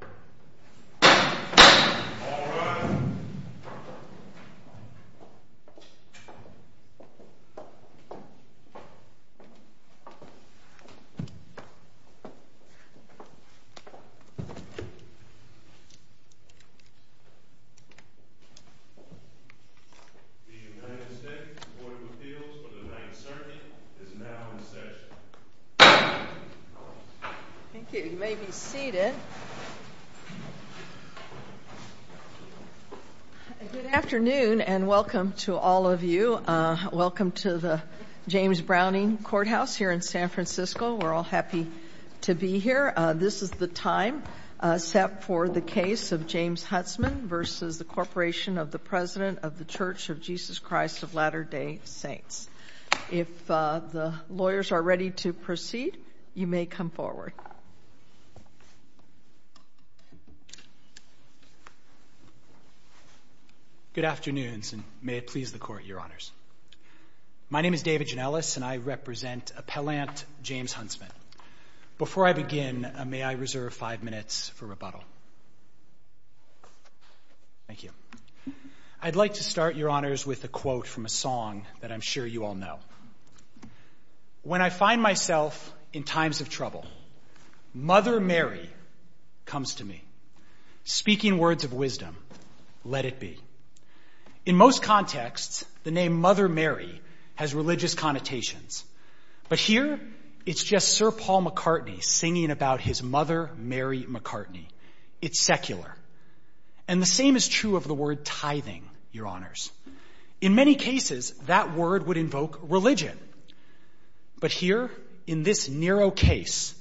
The United States Court of Appeals for the Ninth Circuit is now in session. Thank you. You may be seated. Good afternoon and welcome to all of you. Welcome to the James Browning Courthouse here in San Francisco. We're all happy to be here. This is the time set for the case of James Huntsman v. the Corporation of the President of the Church of Jesus Christ of Latter-day Saints. If the lawyers are ready to proceed, you may come forward. Good afternoon and may it please the Court, Your Honors. My name is David Janellis and I represent Appellant James Huntsman. Before I begin, may I reserve five minutes for rebuttal? Thank you. I'd like to start, Your Honors, with a quote from a song that I'm sure you all know. When I find myself in times of trouble, Mother Mary comes to me. Speaking words of wisdom, let it be. In most contexts, the name Mother Mary has religious connotations. But here, it's just Sir Paul McCartney singing about his mother, Mary McCartney. It's secular. And the same is true of the word tithing, Your Honors. In many cases, that word would invoke religion. But here, in this narrow case,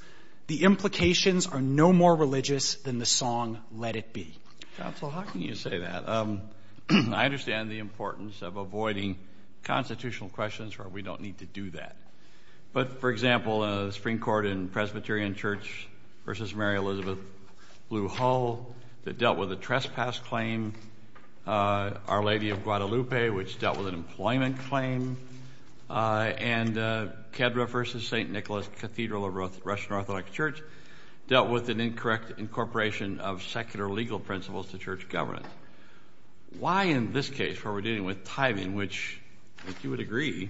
the implications are no more religious than the song, Let it be. Counsel, how can you say that? I understand the importance of avoiding constitutional questions where we don't need to do that. But, for example, the Supreme Court in Presbyterian Church v. Mary Elizabeth Blue Hall that dealt with a trespass claim. Our Lady of Guadalupe, which dealt with an employment claim. And Kedre v. St. Nicholas Cathedral of Russian Orthodox Church dealt with an incorrect incorporation of secular legal principles to church governance. Why in this case, where we're dealing with tithing, which, if you would agree,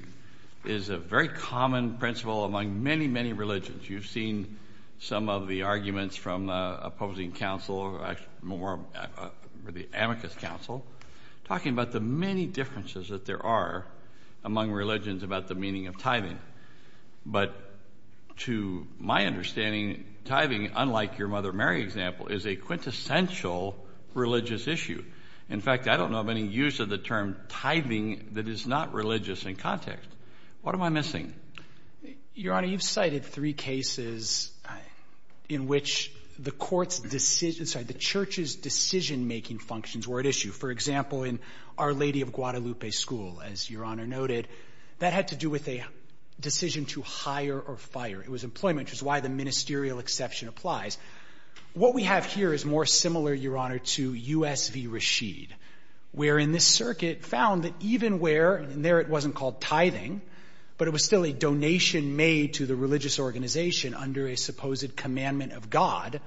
is a very common principle among many, many religions. You've seen some of the arguments from opposing counsel, or the amicus counsel, talking about the many differences that there are among religions about the meaning of tithing. But, to my understanding, tithing, unlike your Mother Mary example, is a quintessential religious issue. In fact, I don't know of any use of the term tithing that is not religious in context. What am I missing? Your Honor, you've cited three cases in which the Church's decision-making functions were at issue. For example, in Our Lady of Guadalupe School, as Your Honor noted, that had to do with a decision to hire or fire. It was employment, which is why the ministerial exception applies. What we have here is more similar, Your Honor, to U.S. v. Rashid, wherein this circuit found that even where, and there it wasn't called tithing, but it was still a donation made to the religious organization under a supposed commandment of God,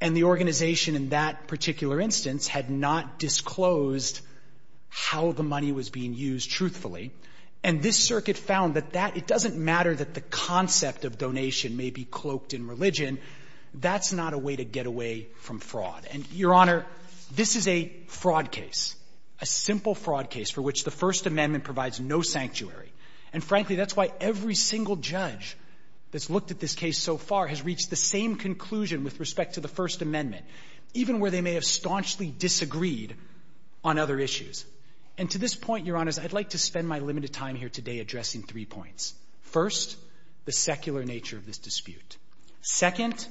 and the organization in that particular instance had not disclosed how the money was being used truthfully, and this circuit found that that, it doesn't matter that the concept of donation may be cloaked in religion, that's not a way to get away from fraud. And, Your Honor, this is a fraud case, a simple fraud case for which the First Amendment provides no sanctuary. And, frankly, that's why every single judge that's looked at this case so far has reached the same conclusion with respect to the First Amendment, even where they may have staunchly disagreed on other issues. And to this point, Your Honor, I'd like to spend my limited time here today addressing three points. First, the secular nature of this dispute. Second,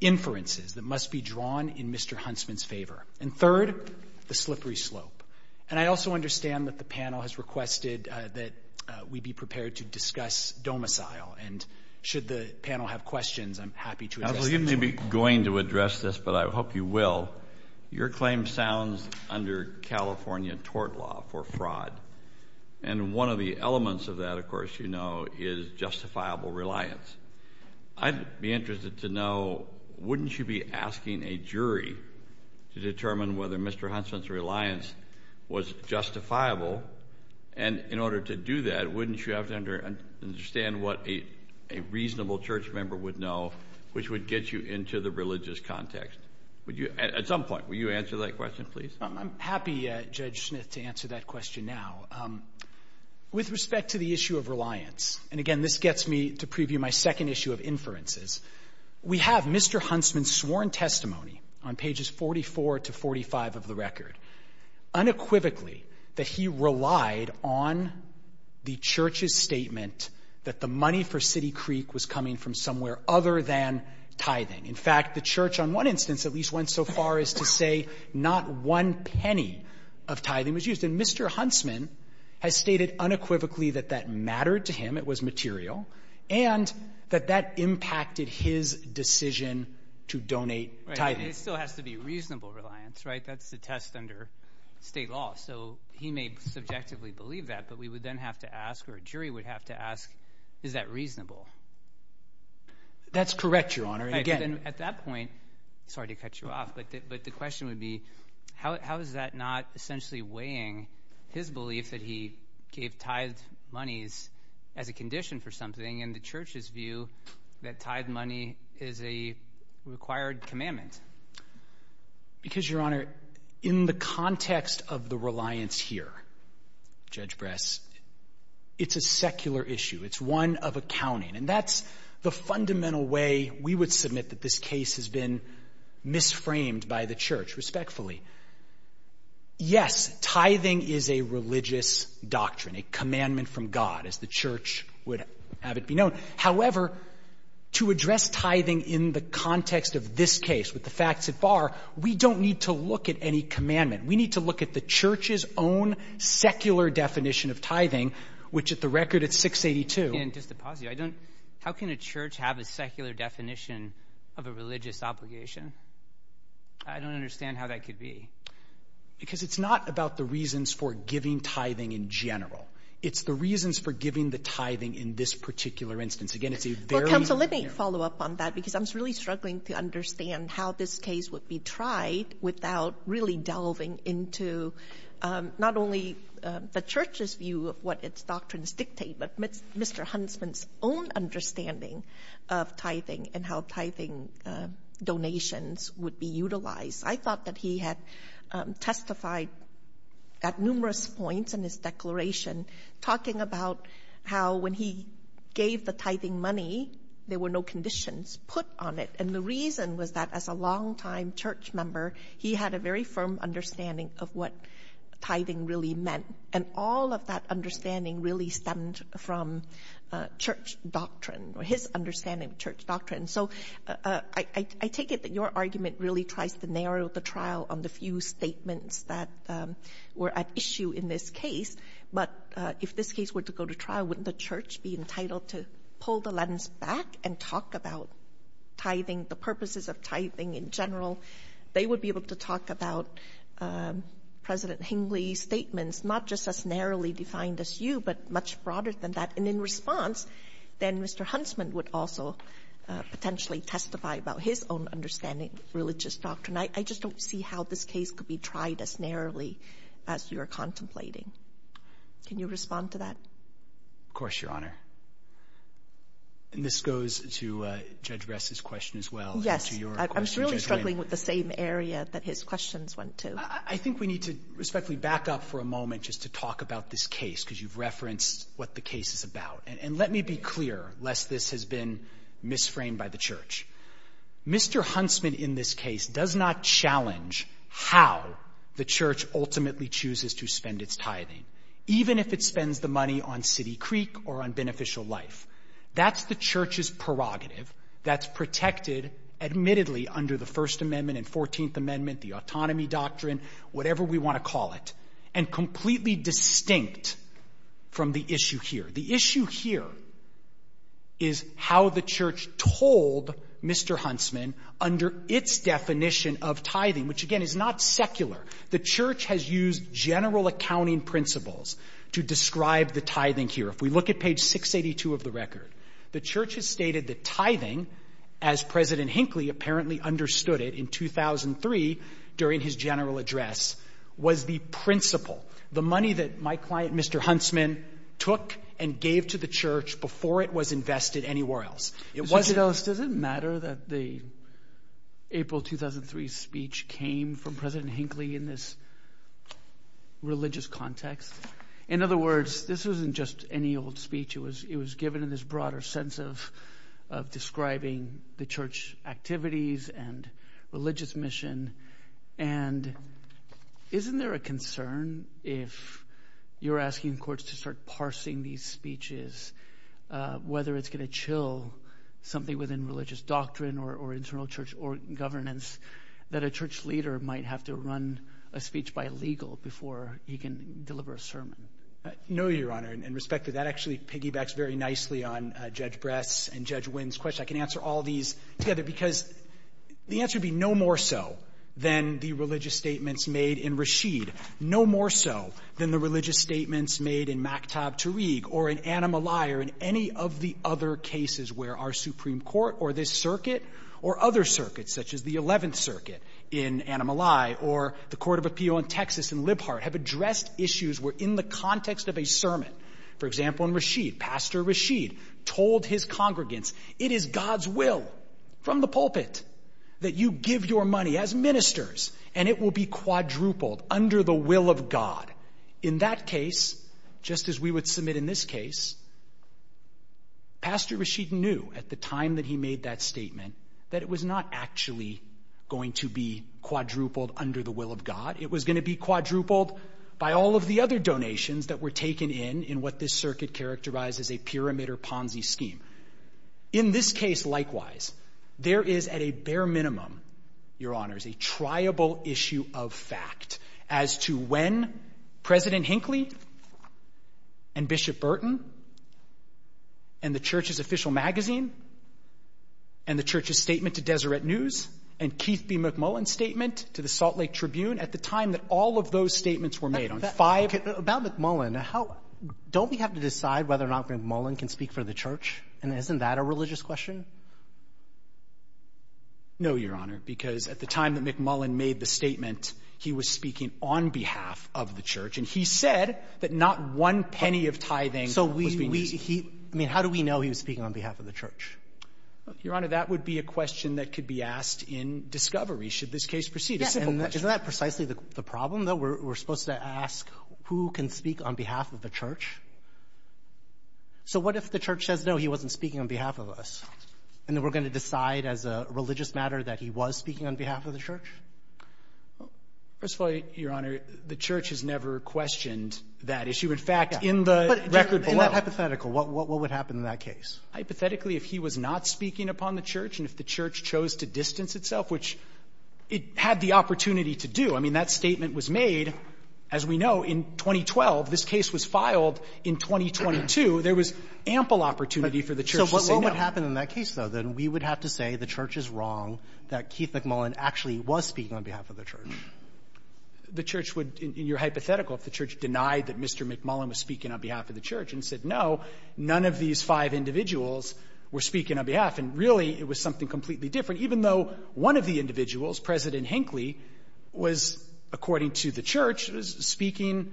inferences that must be drawn in Mr. Huntsman's favor. And third, the slippery slope. And I also understand that the panel has requested that we be prepared to discuss domicile, and should the panel have questions, I'm happy to address them to you. You may be going to address this, but I hope you will. Your claim sounds under California tort law for fraud, and one of the elements of that, of course, you know, is justifiable reliance. I'd be interested to know, wouldn't you be asking a jury to determine whether Mr. Huntsman's reliance was justifiable? And in order to do that, wouldn't you have to understand what a reasonable church member would know, which would get you into the religious context? At some point, will you answer that question, please? I'm happy, Judge Smith, to answer that question now. With respect to the issue of reliance, and again, this gets me to preview my second issue of inferences, we have Mr. Huntsman's sworn testimony on pages 44 to 45 of the record, unequivocally that he relied on the church's statement that the money for City Creek was coming from somewhere other than tithing. In fact, the church on one instance at least went so far as to say not one penny of tithing was used. And Mr. Huntsman has stated unequivocally that that mattered to him, it was material, and that that impacted his decision to donate tithing. It still has to be reasonable reliance, right? That's the test under state law. So he may subjectively believe that, but we would then have to ask, or a jury would have to ask, is that reasonable? That's correct, Your Honor. At that point, sorry to cut you off, but the question would be, how is that not essentially weighing his belief that he gave tithed monies as a condition for something and the church's view that tithed money is a required commandment? Because, Your Honor, in the context of the reliance here, Judge Bress, it's a secular issue. It's one of accounting, and that's the fundamental way we would submit that this case has been misframed by the church, respectfully. Yes, tithing is a religious doctrine, a commandment from God, as the church would have it be known. However, to address tithing in the context of this case with the facts at bar, we don't need to look at any commandment. We need to look at the church's own secular definition of tithing, which at the record, it's 682. And just to pause you, how can a church have a secular definition of a religious obligation? I don't understand how that could be. Because it's not about the reasons for giving tithing in general. It's the reasons for giving the tithing in this particular instance. Again, it's a very— Counsel, let me follow up on that because I'm really struggling to understand how this case would be tried without really delving into not only the church's view of what its doctrines dictate, but Mr. Huntsman's own understanding of tithing and how tithing donations would be utilized. I thought that he had testified at numerous points in his declaration talking about how when he gave the tithing money, there were no conditions put on it. And the reason was that as a longtime church member, he had a very firm understanding of what tithing really meant. And all of that understanding really stemmed from church doctrine or his understanding of church doctrine. So I take it that your argument really tries to narrow the trial on the few statements that were at issue in this case. But if this case were to go to trial, wouldn't the church be entitled to pull the lens back and talk about tithing, the purposes of tithing in general? They would be able to talk about President Hinckley's statements, not just as narrowly defined as you, but much broader than that. And in response, then Mr. Huntsman would also potentially testify about his own understanding of religious doctrine. I just don't see how this case could be tried as narrowly as you're contemplating. Can you respond to that? Of course, Your Honor. And this goes to Judge Ress's question as well. Yes, I was really struggling with the same area that his questions went to. I think we need to respectfully back up for a moment just to talk about this case because you've referenced what the case is about. And let me be clear, lest this has been misframed by the church. Mr. Huntsman in this case does not challenge how the church ultimately chooses to spend its tithing, even if it spends the money on City Creek or on beneficial life. That's the church's prerogative. That's protected, admittedly, under the First Amendment and Fourteenth Amendment, the autonomy doctrine, whatever we want to call it, and completely distinct from the issue here. The issue here is how the church told Mr. Huntsman under its definition of tithing, which, again, is not secular. The church has used general accounting principles to describe the tithing here. If we look at page 682 of the record, the church has stated that tithing, as President Hinckley apparently understood it in 2003 during his general address, was the principle. The money that my client, Mr. Huntsman, took and gave to the church before it was invested anywhere else. Does it matter that the April 2003 speech came from President Hinckley in this religious context? In other words, this wasn't just any old speech. It was given in this broader sense of describing the church activities and religious mission. And isn't there a concern if you're asking courts to start parsing these speeches, whether it's going to chill something within religious doctrine or internal church governance that a church leader might have to run a speech by legal before he can deliver a sermon? No, Your Honor, in respect to that, actually piggybacks very nicely on Judge Bress and Judge Wynn's question. I can answer all these together because the answer would be no more so than the religious statements made in Rashid, no more so than the religious statements made in Maktab Tariq or in Annamalai or in any of the other cases where our Supreme Court or this circuit or other circuits, such as the 11th Circuit in Annamalai or the Court of Appeal in Texas in Libhart, have addressed issues where in the context of a sermon, for example in Rashid, Pastor Rashid told his congregants, it is God's will from the pulpit that you give your money as ministers and it will be quadrupled under the will of God. In that case, just as we would submit in this case, Pastor Rashid knew at the time that he made that statement that it was not actually going to be quadrupled under the will of God. It was going to be quadrupled by all of the other donations that were taken in in what this circuit characterized as a pyramid or Ponzi scheme. In this case, likewise, there is at a bare minimum, Your Honors, a triable issue of fact as to when President Hinckley and Bishop Burton and the Church's official magazine and the Church's statement to Deseret News and Keith B. McMullen's statement to the Salt Lake Tribune, at the time that all of those statements were made on five — About McMullen, don't we have to decide whether or not McMullen can speak for the Church? And isn't that a religious question? No, Your Honor, because at the time that McMullen made the statement, he was speaking on behalf of the Church, and he said that not one penny of tithing was being used. I mean, how do we know he was speaking on behalf of the Church? Your Honor, that would be a question that could be asked in discovery, should this case proceed. Isn't that precisely the problem, though? We're supposed to ask who can speak on behalf of the Church? So what if the Church says, no, he wasn't speaking on behalf of us, and then we're going to decide as a religious matter that he was speaking on behalf of the Church? First of all, Your Honor, the Church has never questioned that issue. In fact, in the record below — But isn't that hypothetical? What would happen in that case? Hypothetically, if he was not speaking upon the Church and if the Church chose to distance itself, which it had the opportunity to do. I mean, that statement was made, as we know, in 2012. This case was filed in 2022. There was ample opportunity for the Church to say no. So what would happen in that case, though? Then we would have to say the Church is wrong, that Keith McMullen actually was speaking on behalf of the Church. The Church would, in your hypothetical, if the Church denied that Mr. McMullen was speaking on behalf of the Church and said no, none of these five individuals were speaking on behalf, and really it was something completely different, even though one of the individuals, President Hinckley, was, according to the Church, speaking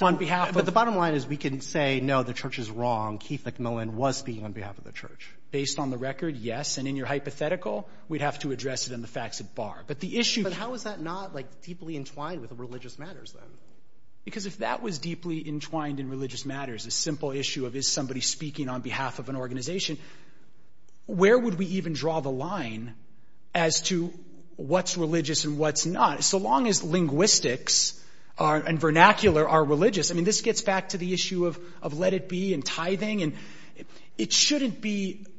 on behalf of — But the bottom line is we can say, no, the Church is wrong. Keith McMullen was speaking on behalf of the Church. Based on the record, yes. And in your hypothetical, we'd have to address it in the facts at bar. But the issue — But how is that not, like, deeply entwined with religious matters, then? Because if that was deeply entwined in religious matters, a simple issue of is somebody speaking on behalf of an organization, where would we even draw the line as to what's religious and what's not? So long as linguistics and vernacular are religious, I mean, this gets back to the issue of let it be and tithing, and it shouldn't be —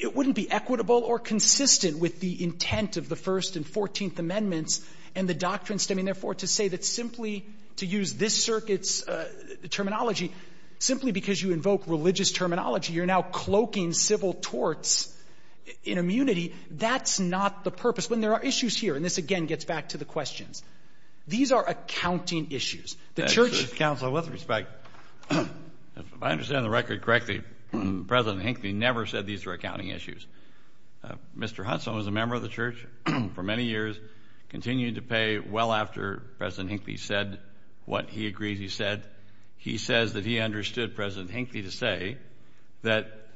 it wouldn't be equitable or consistent with the intent of the First and Fourteenth Amendments and the doctrine stemming, therefore, to say that simply to use this circuit's terminology, simply because you invoke religious terminology, you're now cloaking civil torts in immunity. That's not the purpose. When there are issues here, and this again gets back to the questions, these are accounting issues. The Church — Counsel, with respect, if I understand the record correctly, President Hinckley never said these were accounting issues. Mr. Hudson was a member of the Church for many years, continued to pay well after President Hinckley said what he agreed he said. He says that he understood President Hinckley to say that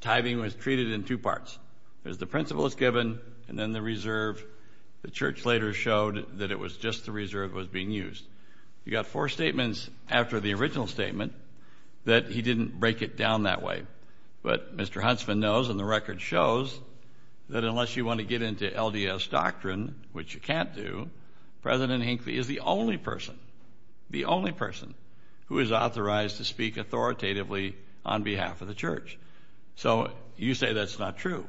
tithing was treated in two parts. There's the principle that's given, and then the reserve. The Church later showed that it was just the reserve that was being used. You've got four statements after the original statement that he didn't break it down that way. But Mr. Huntsman knows, and the record shows, that unless you want to get into LDS doctrine, which you can't do, President Hinckley is the only person, the only person, who is authorized to speak authoritatively on behalf of the Church. So you say that's not true,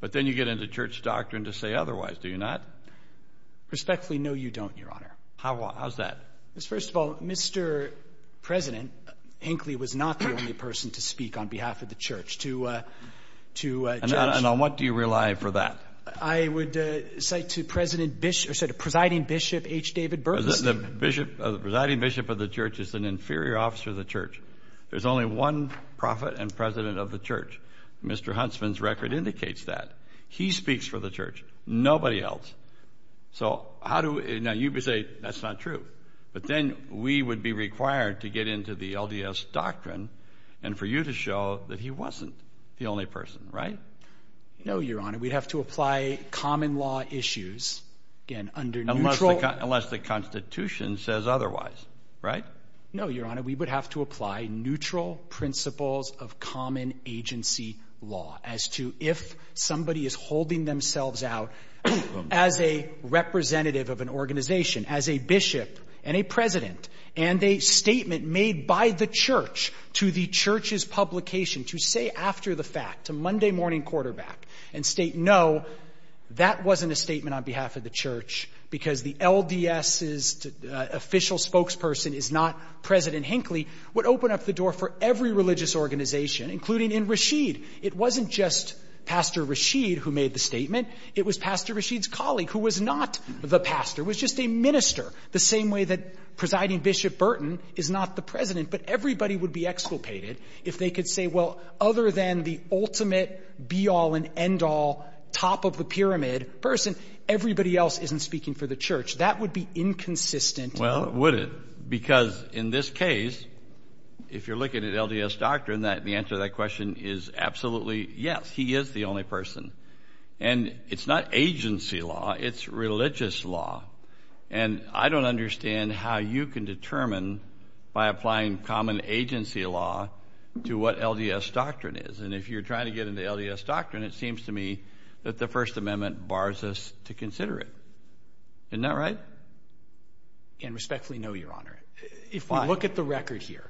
but then you get into Church doctrine to say otherwise, do you not? Respectfully, no, you don't, Your Honor. How's that? First of all, Mr. President Hinckley was not the only person to speak on behalf of the Church. And on what do you rely for that? I would say to Presiding Bishop H. David Berkley. The Presiding Bishop of the Church is an inferior officer of the Church. There's only one prophet and president of the Church. Mr. Huntsman's record indicates that. He speaks for the Church, nobody else. So how do you say that's not true? But then we would be required to get into the LDS doctrine and for you to show that he wasn't the only person, right? No, Your Honor. We'd have to apply common law issues, again, under neutral— Unless the Constitution says otherwise, right? No, Your Honor. We would have to apply neutral principles of common agency law as to if somebody is holding themselves out as a representative of an organization, as a bishop and a president, and a statement made by the Church to the Church's publication, to say after the fact, to Monday morning quarterback, and state, no, that wasn't a statement on behalf of the Church because the LDS's official spokesperson is not President Hinckley, would open up the door for every religious organization, including in Rashid. It wasn't just Pastor Rashid who made the statement. It was Pastor Rashid's colleague who was not the pastor, was just a minister, the same way that Presiding Bishop Burton is not the president. But everybody would be exculpated if they could say, well, other than the ultimate be-all and end-all, top-of-the-pyramid person, everybody else isn't speaking for the Church. That would be inconsistent. Well, would it? Because in this case, if you're looking at LDS doctrine, the answer to that question is absolutely yes, he is the only person. And it's not agency law. It's religious law. And I don't understand how you can determine by applying common agency law to what LDS doctrine is. And if you're trying to get into LDS doctrine, it seems to me that the First Amendment bars us to consider it. Isn't that right? And respectfully, no, Your Honor. If you look at the record here,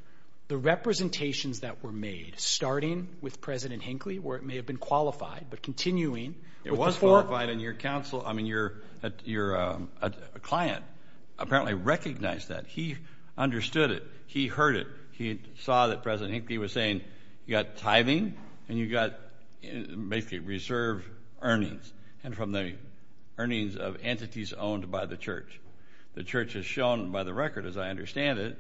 the representations that were made, starting with President Hinckley, where it may have been qualified, but continuing. It was qualified in your counsel. I mean, your client apparently recognized that. He understood it. He heard it. He saw that President Hinckley was saying you've got tithing and you've got basically reserve earnings, and from the earnings of entities owned by the Church. The Church has shown by the record, as I understand it,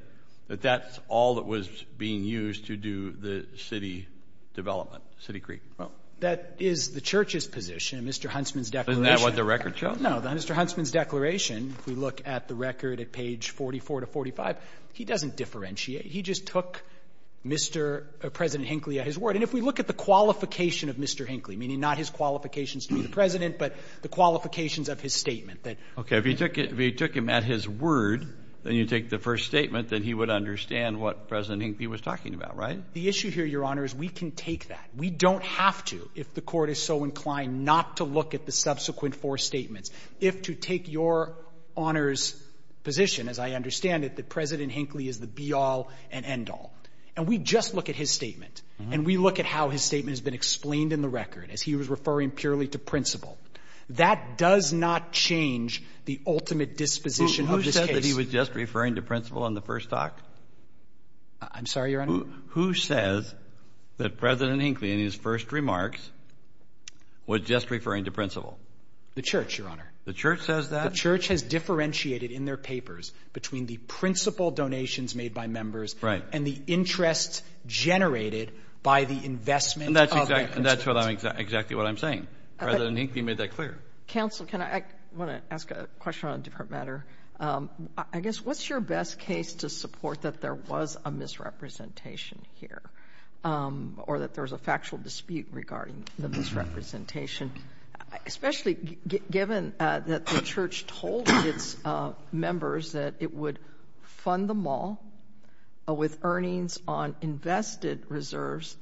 that that's all that was being used to do the city development, City Creek. That is the Church's position, Mr. Huntsman's declaration. Isn't that what the record shows? No, Mr. Huntsman's declaration, if we look at the record at page 44 to 45, he doesn't differentiate. He just took President Hinckley at his word. And if we look at the qualification of Mr. Hinckley, meaning not his qualifications to be the President, but the qualifications of his statement. Okay. If he took him at his word, then you take the first statement, then he would understand what President Hinckley was talking about, right? The issue here, Your Honor, is we can take that. We don't have to, if the Court is so inclined not to look at the subsequent four statements, if to take Your Honor's position, as I understand it, that President Hinckley is the be-all and end-all. And we just look at his statement, and we look at how his statement has been explained in the record as he was referring purely to principle. That does not change the ultimate disposition of this case. Who said that he was just referring to principle in the first talk? I'm sorry, Your Honor? Who says that President Hinckley in his first remarks was just referring to principle? The Church, Your Honor. The Church says that? The Church has differentiated in their papers between the principle donations made by members. And the interest generated by the investment of their constituents. And that's exactly what I'm saying. President Hinckley made that clear. Counsel, I want to ask a question on a different matter. I guess, what's your best case to support that there was a misrepresentation here? Or that there was a factual dispute regarding the misrepresentation? Especially given that the Church told its members that it would fund the mall with earnings on invested reserves.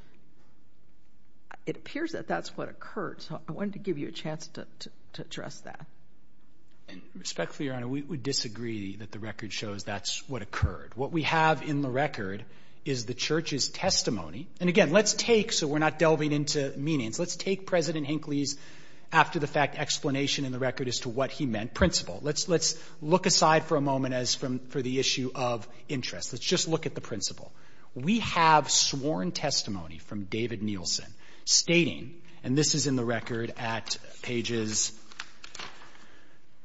It appears that that's what occurred. So I wanted to give you a chance to address that. Respectfully, Your Honor, we disagree that the record shows that's what occurred. What we have in the record is the Church's testimony. And again, let's take, so we're not delving into meanings, let's take President Hinckley's after-the-fact explanation in the record as to what he meant, principle. Let's look aside for a moment for the issue of interest. Let's just look at the principle. We have sworn testimony from David Nielsen stating, and this is in the record at pages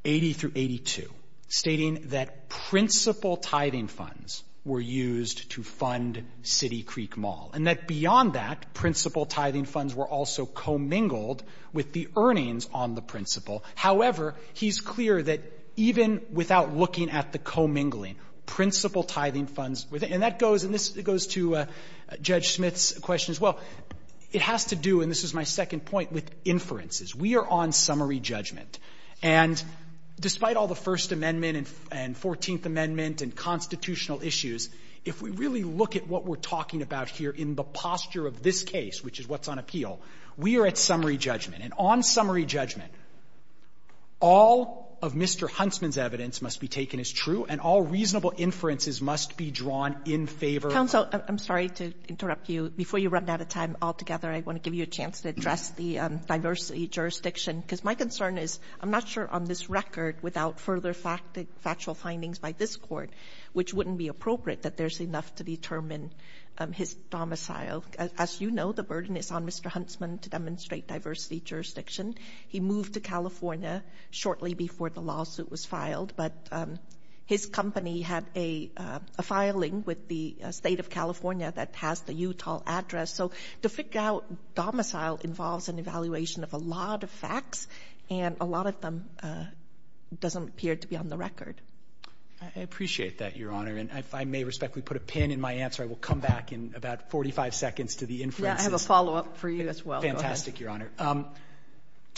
80 through 82, stating that principal tithing funds were used to fund City Creek Mall, and that beyond that, principal tithing funds were also commingled with the earnings on the principal. However, he's clear that even without looking at the commingling, principal tithing funds, and that goes, and this goes to Judge Smith's question as well. It has to do, and this is my second point, with inferences. We are on summary judgment. And despite all the First Amendment and Fourteenth Amendment and constitutional issues, if we really look at what we're talking about here in the posture of this case, which is what's on appeal, we are at summary judgment. And on summary judgment, all of Mr. Huntsman's evidence must be taken as true and all reasonable inferences must be drawn in favor of the court. Sotomayor, I'm sorry to interrupt you. Before you run out of time altogether, I want to give you a chance to address the diversity jurisdiction, because my concern is I'm not sure on this record without further factual findings by this Court, which wouldn't be appropriate that there's enough to determine his domicile. As you know, the burden is on Mr. Huntsman to demonstrate diversity jurisdiction. He moved to California shortly before the lawsuit was filed. But his company had a filing with the State of California that has the Utah address. So to figure out domicile involves an evaluation of a lot of facts, and a lot of them doesn't appear to be on the record. I appreciate that, Your Honor. And if I may respectfully put a pin in my answer, I will come back in about 45 seconds to the inferences. I have a follow-up for you as well. Fantastic, Your Honor.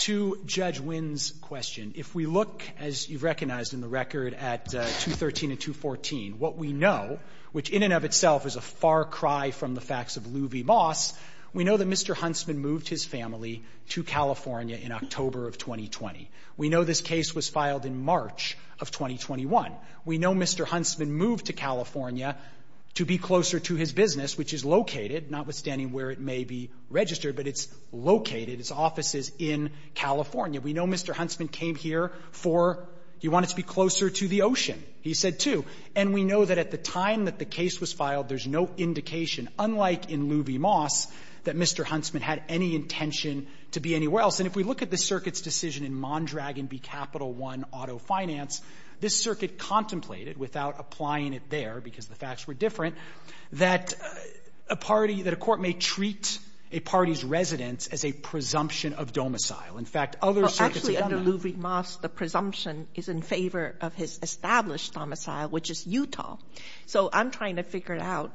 To Judge Wynn's question, if we look, as you've recognized in the record, at 213 and 214, what we know, which in and of itself is a far cry from the facts of Lou v. Moss, we know that Mr. Huntsman moved his family to California in October of 2020. We know this case was filed in March of 2021. We know Mr. Huntsman moved to California to be closer to his business, which is located notwithstanding where it may be registered, but it's located, his office is in California. We know Mr. Huntsman came here for, he wanted to be closer to the ocean, he said too. And we know that at the time that the case was filed, there's no indication, unlike in Lou v. Moss, that Mr. Huntsman had any intention to be anywhere else. And if we look at the circuit's decision in Mondragon v. Capital One Auto Finance, this circuit contemplated, without applying it there because the facts were different, that a party, that a court may treat a party's residence as a presumption of domicile. In fact, other circuits... Actually, under Lou v. Moss, the presumption is in favor of his established domicile, which is Utah. So I'm trying to figure out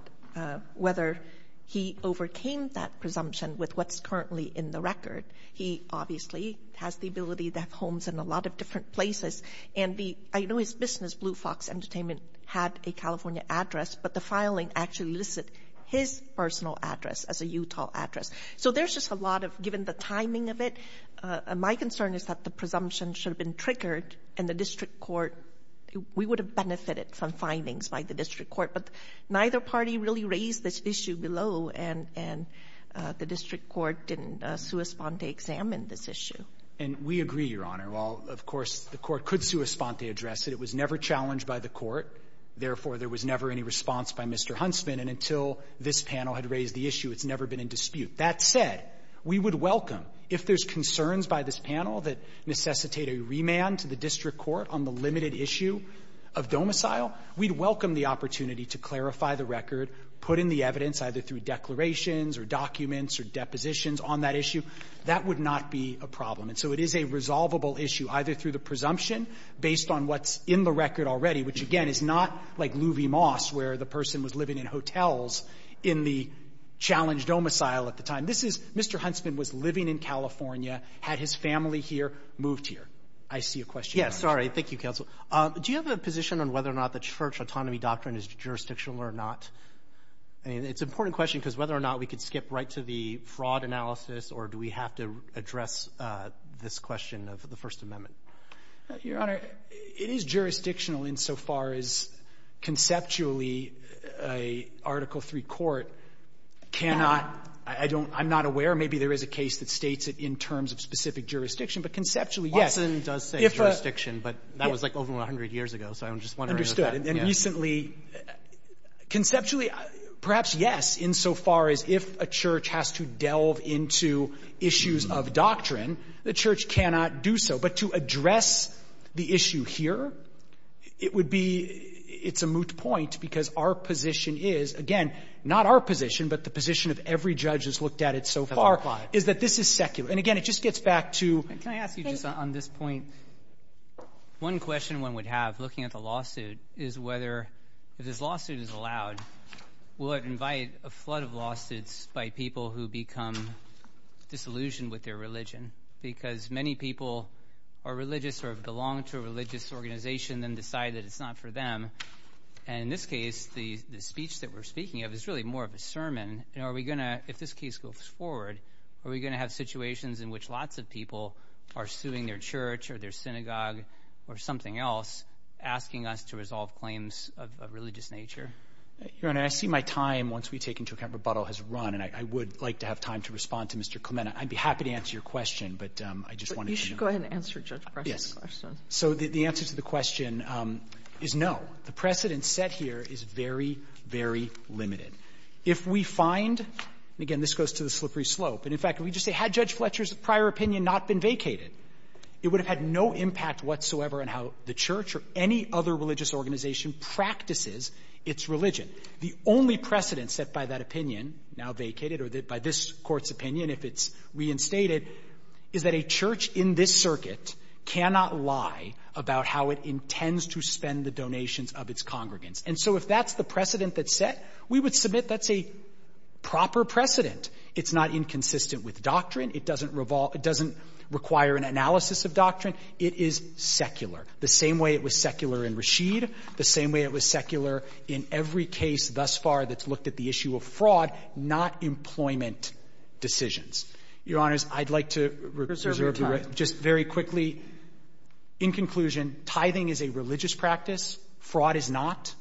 whether he overcame that presumption with what's currently in the record. He obviously has the ability to have homes in a lot of different places. And the, I know his business, Blue Fox Entertainment, had a California address, but the filing actually listed his personal address as a Utah address. So there's just a lot of, given the timing of it, my concern is that the presumption should have been triggered, and the district court, we would have benefited from findings by the district court. But neither party really raised this issue below, and the district court didn't sua sponte examine this issue. And we agree, Your Honor. While, of course, the court could sua sponte address it, it was never challenged by the court. Therefore, there was never any response by Mr. Huntsman. And until this panel had raised the issue, it's never been in dispute. That said, we would welcome, if there's concerns by this panel that necessitate a remand to the district court on the limited issue of domicile, we'd welcome the opportunity to clarify the record, put in the evidence, either through declarations or documents or depositions on that issue. That would not be a problem. And so it is a resolvable issue, either through the presumption based on what's in the record already, which, again, is not like Louie Moss, where the person was living in hotels in the challenged domicile at the time. This is Mr. Huntsman was living in California, had his family here, moved here. I see a question. Sorry. Thank you, counsel. Do you have a position on whether or not the Church autonomy doctrine is jurisdictional or not? I mean, it's an important question, because whether or not we could skip right to the fraud analysis, or do we have to address this question of the First Amendment? Your Honor, it is jurisdictional insofar as conceptually a Article III court cannot — I don't — I'm not aware. Maybe there is a case that states it in terms of specific jurisdiction. But conceptually, yes. Watson does say jurisdiction, but that was, like, over 100 years ago, so I'm just wondering if that — And recently — conceptually, perhaps yes, insofar as if a church has to delve into issues of doctrine, the church cannot do so. But to address the issue here, it would be — it's a moot point, because our position is — again, not our position, but the position of every judge that's looked at it so far — That's a lie. — is that this is secular. And again, it just gets back to — Can I ask you, just on this point, one question one would have, looking at the lawsuit, is whether, if this lawsuit is allowed, will it invite a flood of lawsuits by people who become disillusioned with their religion? Because many people are religious or belong to a religious organization and then decide that it's not for them. And in this case, the speech that we're speaking of is really more of a sermon. And are we going to — if this case goes forward, are we going to have situations in which lots of people are suing their church or their synagogue or something else, asking us to resolve claims of a religious nature? Your Honor, I see my time, once we take into account rebuttal, has run. And I would like to have time to respond to Mr. Clement. I'd be happy to answer your question, but I just wanted to know. But you should go ahead and answer Judge Fletcher's question. So the answer to the question is no. The precedent set here is very, very limited. If we find — and again, this goes to the slippery slope. And in fact, if we just say, had Judge Fletcher's prior opinion not been vacated, it would have had no impact whatsoever on how the church or any other religious organization practices its religion. The only precedent set by that opinion, now vacated, or by this Court's opinion, if it's reinstated, is that a church in this circuit cannot lie about how it intends to spend the donations of its congregants. And so if that's the precedent that's set, we would submit that's a proper precedent. It's not inconsistent with doctrine. It doesn't revolve — it doesn't require an analysis of doctrine. It is secular, the same way it was secular in Rashid, the same way it was secular in every case thus far that's looked at the issue of fraud, not employment decisions. Your Honors, I'd like to reserve — Just very quickly, in conclusion, tithing is a religious practice. Fraud is not.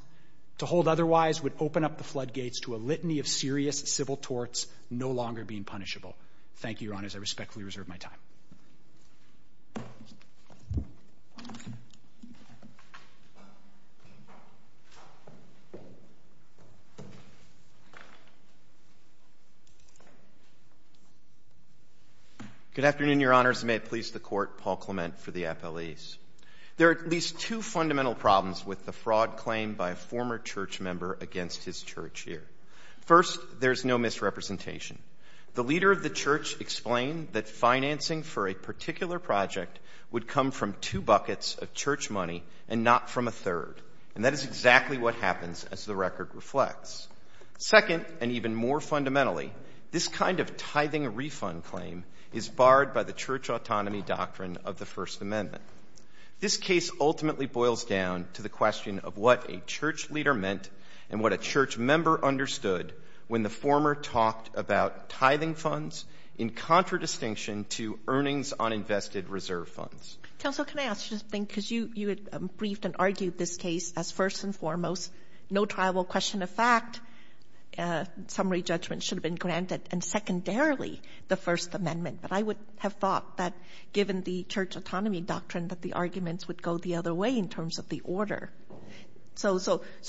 To hold otherwise would open up the floodgates to a litany of serious civil torts no longer being punishable. Thank you, Your Honors. I respectfully reserve my time. Good afternoon, Your Honors, and may it please the Court, Paul Clement for the appellees. There are at least two fundamental problems with the fraud claimed by a former church member against his church here. First, there's no misrepresentation. The leader of the church explained that financing for a particular project would come from two buckets of church money and not from a third. And that is exactly what happened. Second, and even more fundamentally, this kind of tithing refund claim is barred by the church autonomy doctrine of the First Amendment. This case ultimately boils down to the question of what a church leader meant and what a church member understood when the former talked about tithing funds in contradistinction to earnings on invested reserve funds. Counsel, can I ask you something? Because you had briefed and argued this case as first and foremost, no trial will question a fact, summary judgment should have been granted, and secondarily, the First Amendment. But I would have thought that given the church autonomy doctrine that the arguments would go the other way in terms of the order. So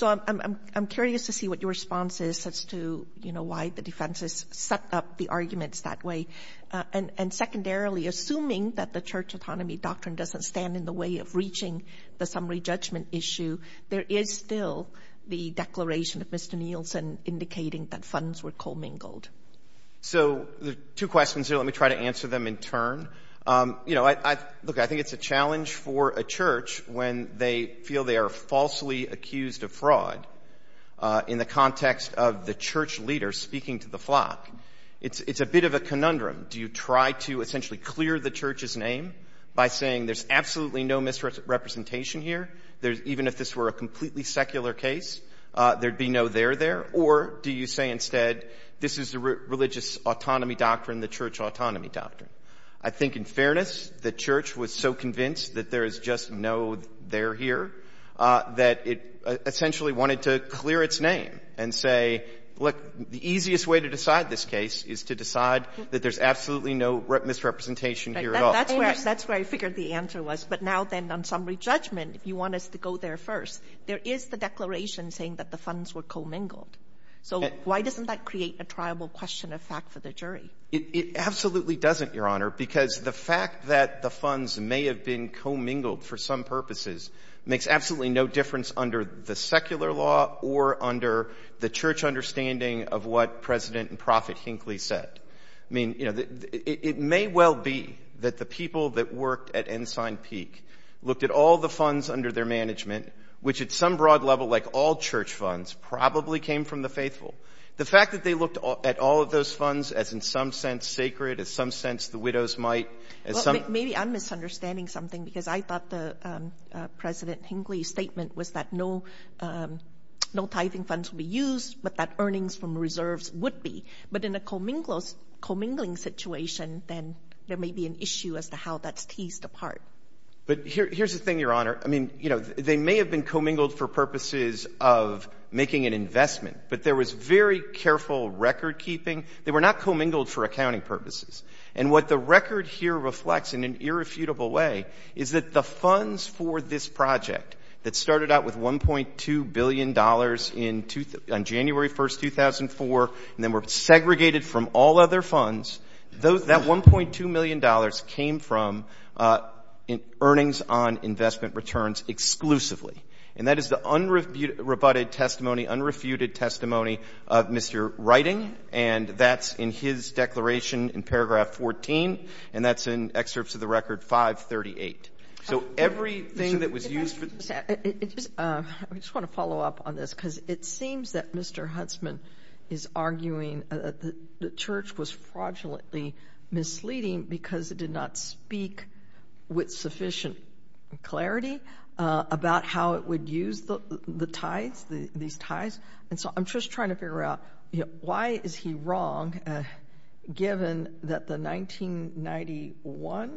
I'm curious to see what your response is as to, you know, why the defense has set up the arguments that way. And secondarily, assuming that the church autonomy doctrine doesn't stand in the way of reaching the summary judgment issue, there is still the declaration of Mr. Nielsen indicating that funds were commingled. So two questions here. Let me try to answer them in turn. You know, look, I think it's a challenge for a church when they feel they are falsely accused of fraud in the context of the church leader speaking to the flock. It's a bit of a conundrum. Do you try to essentially clear the church's name by saying there's absolutely no misrepresentation here, even if this were a completely secular case, there'd be no there there, or do you say instead this is the religious autonomy doctrine, the church autonomy doctrine? I think in fairness, the church was so convinced that there is just no there here that it essentially wanted to clear its name and say, look, the easiest way to decide this case is to decide that there's absolutely no misrepresentation here at all. That's where I figured the answer was. But now then on summary judgment, if you want us to go there first, there is the declaration saying that the funds were commingled. So why doesn't that create a triable question of fact for the jury? It absolutely doesn't, Your Honor, because the fact that the funds may have been commingled for some purposes makes absolutely no difference under the secular law or under the church understanding of what President and Prophet Hinckley said. I mean, it may well be that the people that worked at Ensign Peak looked at all the funds under their management, which at some broad level, like all church funds, probably came from the faithful. The fact that they looked at all of those funds as in some sense sacred, as some sense the widows might, as some— Maybe I'm misunderstanding something because I thought President Hinckley's statement was that no tithing funds would be used but that earnings from reserves would be. But in a commingling situation, then there may be an issue as to how that's teased apart. But here's the thing, Your Honor. I mean, you know, they may have been commingled for purposes of making an investment, but there was very careful recordkeeping. They were not commingled for accounting purposes. And what the record here reflects in an irrefutable way is that the funds for this project that started out with $1.2 billion on January 1, 2004, and then were segregated from all other funds, that $1.2 million came from earnings on investment returns exclusively. And that is the unrebutted testimony, unrefuted testimony of Mr. Writing, and that's in his declaration in paragraph 14, and that's in excerpts of the record 538. So everything that was used for... I just want to follow up on this because it seems that Mr. Huntsman is arguing that the Church was fraudulently misleading because it did not speak with sufficient clarity about how it would use the tithes, these tithes. And so I'm just trying to figure out why is he wrong given that the 1991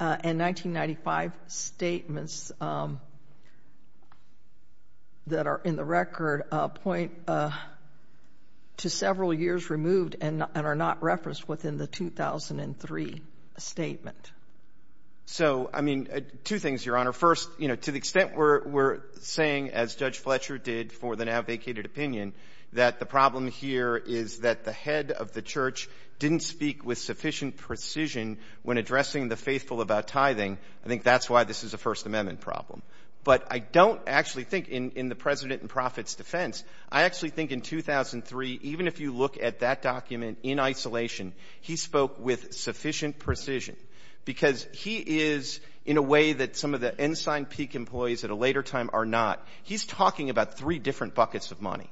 and 1995 statements that are in the record point to several years removed and are not referenced within the 2003 statement? So, I mean, two things, Your Honor. First, to the extent we're saying, as Judge Fletcher did for the now vacated opinion, that the problem here is that the head of the Church didn't speak with sufficient precision when addressing the faithful about tithing, I think that's why this is a First Amendment problem. But I don't actually think in the president and prophet's defense. I actually think in 2003, even if you look at that document in isolation, he spoke with sufficient precision because he is in a way that some of the ensign peak employees at a later time are not. He's talking about three different buckets of money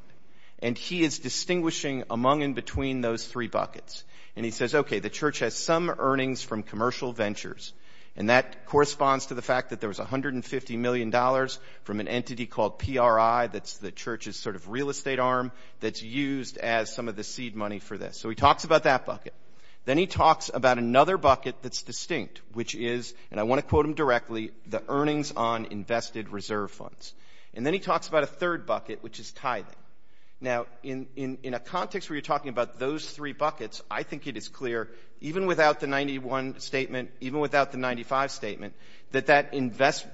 and he is distinguishing among and between those three buckets. And he says, okay, the Church has some earnings from commercial ventures and that corresponds to the fact that there was $150 million from an entity called PRI that's the Church's sort of real estate arm that's used as some of the seed money for this. So he talks about that bucket. Then he talks about another bucket that's distinct, which is, and I want to quote him directly, the earnings on invested reserve funds. And then he talks about a third bucket, which is tithing. Now, in a context where you're talking about those three buckets, I think it is clear even without the 91 statement, even without the 95 statement, that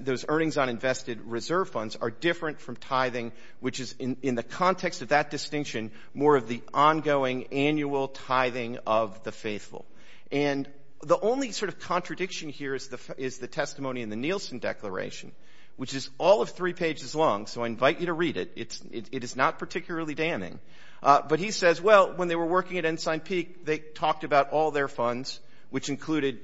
those earnings on invested reserve funds are different from tithing, which is in the context of that distinction more of the ongoing annual tithing of the faithful. And the only sort of contradiction here is the testimony in the Nielsen Declaration, which is all of three pages long, so I invite you to read it. It is not particularly damning. But he says, well, when they were working at Ensign Peak, they talked about all their funds, which included